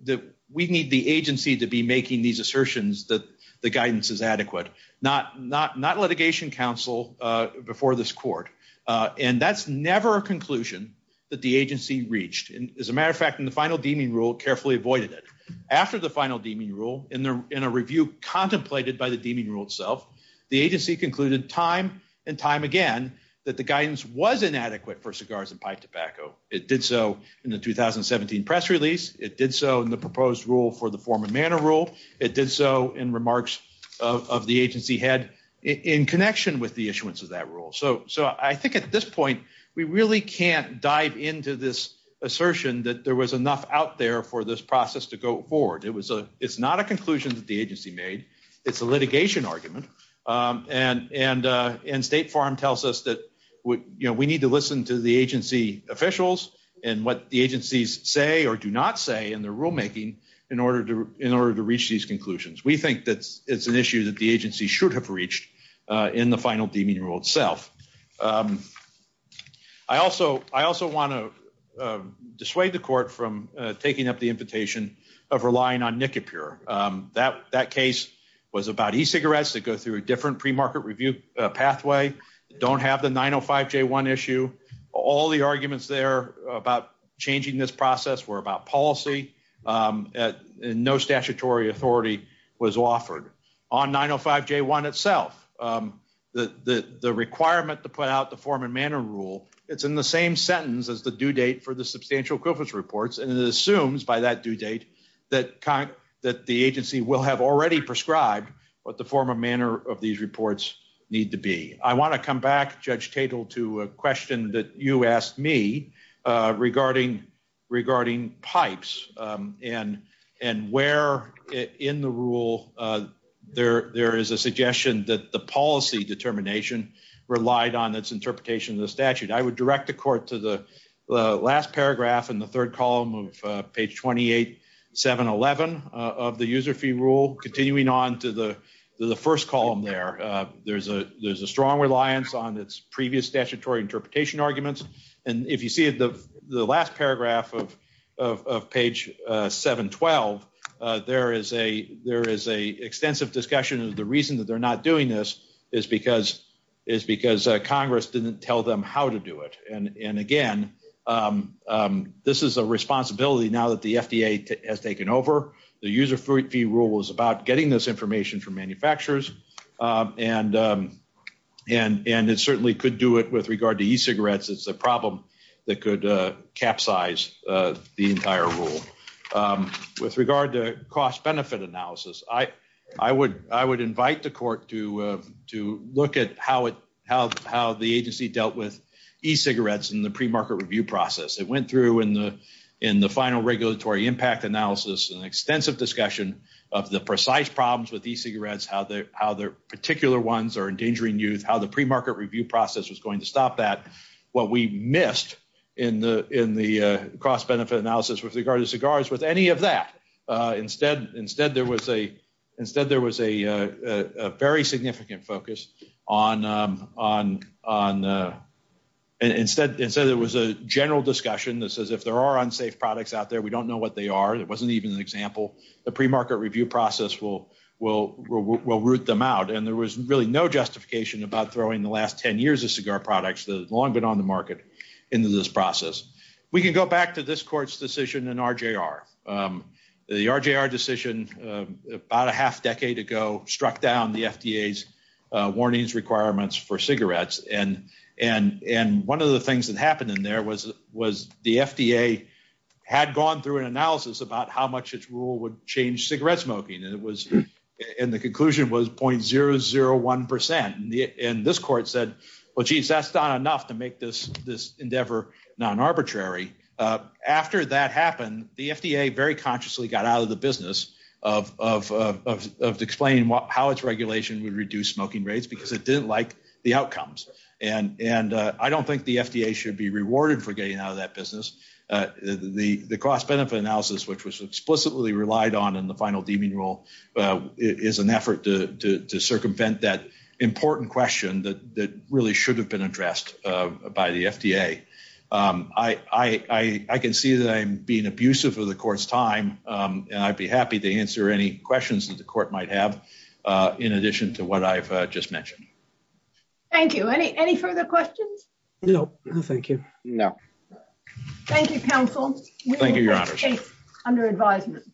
that we need the agency to be making these assertions that the guidance is adequate, not litigation counsel before this court. And that's never a conclusion that the agency reached. As a matter of fact, in the final deeming rule, carefully avoided it. After the final deeming rule, in a review contemplated by the deeming rule itself, the agency concluded time and time again that the guidance was inadequate for cigars and pipe tobacco. It did so in the 2017 press release. It did so in the proposed rule for the form and manner rule. It did so in remarks of the agency head in connection with the issuance of that rule. So I think at this point, we really can't dive into this assertion that there was enough out there for this process to go forward. It's not a conclusion that the agency made. It's a litigation argument. And State Farm tells us that we need to listen to the agency officials and what the agencies say or do not say in their rulemaking in order to reach these conclusions. We think that it's an issue that the agency should have reached in the final deeming rule itself. I also want to dissuade the court from taking up the invitation of relying on NICAPUR. That case was about e-cigarettes that go through a different premarket review pathway, don't have the 905J1 issue. All the arguments there about changing this process were about policy, and no statutory authority was offered. On 905J1 itself, the requirement to put out the form and manner rule, it's in the same sentence as the due date for the substantial equivalence reports, and it assumes by that due date that the agency will have already prescribed what the form and manner of these reports need to be. I want to come back, Judge Tatel, to a question that you asked me regarding pipes and where in the rule there is a suggestion that the policy determination relied on its interpretation of the statute. I would direct the court to the last paragraph in the third column of page 28711 of the user fee rule, continuing on to the first column there. There's a strong reliance on its previous statutory interpretation arguments, and if you see the last paragraph of page 712, there is an extensive discussion of the reason that they're not doing this is because Congress didn't tell them how to do it. Again, this is a responsibility now that the FDA has taken over. The user fee rule was about getting this information from manufacturers, and it certainly could do it with regard to e-cigarettes. It's a problem that could capsize the entire rule. With regard to cost-benefit analysis, I would invite the court to look at how the agency dealt with e-cigarettes in the premarket review process. It went through in the final regulatory impact analysis an extensive discussion of the precise problems with e-cigarettes, how their particular ones are endangering use, how the premarket review process was going to stop that. What we missed in the cost-benefit analysis with regard to cigars was any of that. Instead, there was a very significant focus on the – instead, there was a general discussion that says if there are unsafe products out there, we don't know what they are. It wasn't even an example. The premarket review process will root them out, and there was really no justification about throwing the last 10 years of cigar products that have long been on the market into this process. We can go back to this court's decision in RJR. The RJR decision about a half decade ago struck down the FDA's warnings requirements for cigarettes, and one of the things that happened in there was the FDA had gone through an analysis about how much its rule would change cigarette smoking, and the conclusion was 0.001 percent, and this court said, well, geez, that's not enough to make this endeavor non-arbitrary. After that happened, the FDA very consciously got out of the business of explaining how its regulation would reduce smoking rates because it didn't like the outcomes, and I don't think the FDA should be rewarded for getting out of that business. The cost-benefit analysis, which was explicitly relied on in the final deeming rule, is an effort to circumvent that important question that really should have been addressed by the FDA. I can see that I'm being abusive of the court's time, and I'd be happy to answer any questions that the court might have in addition to what I've just mentioned. Thank you. Any further questions? No, thank you. No. Thank you, counsel. Thank you, Your Honor. Under advisement.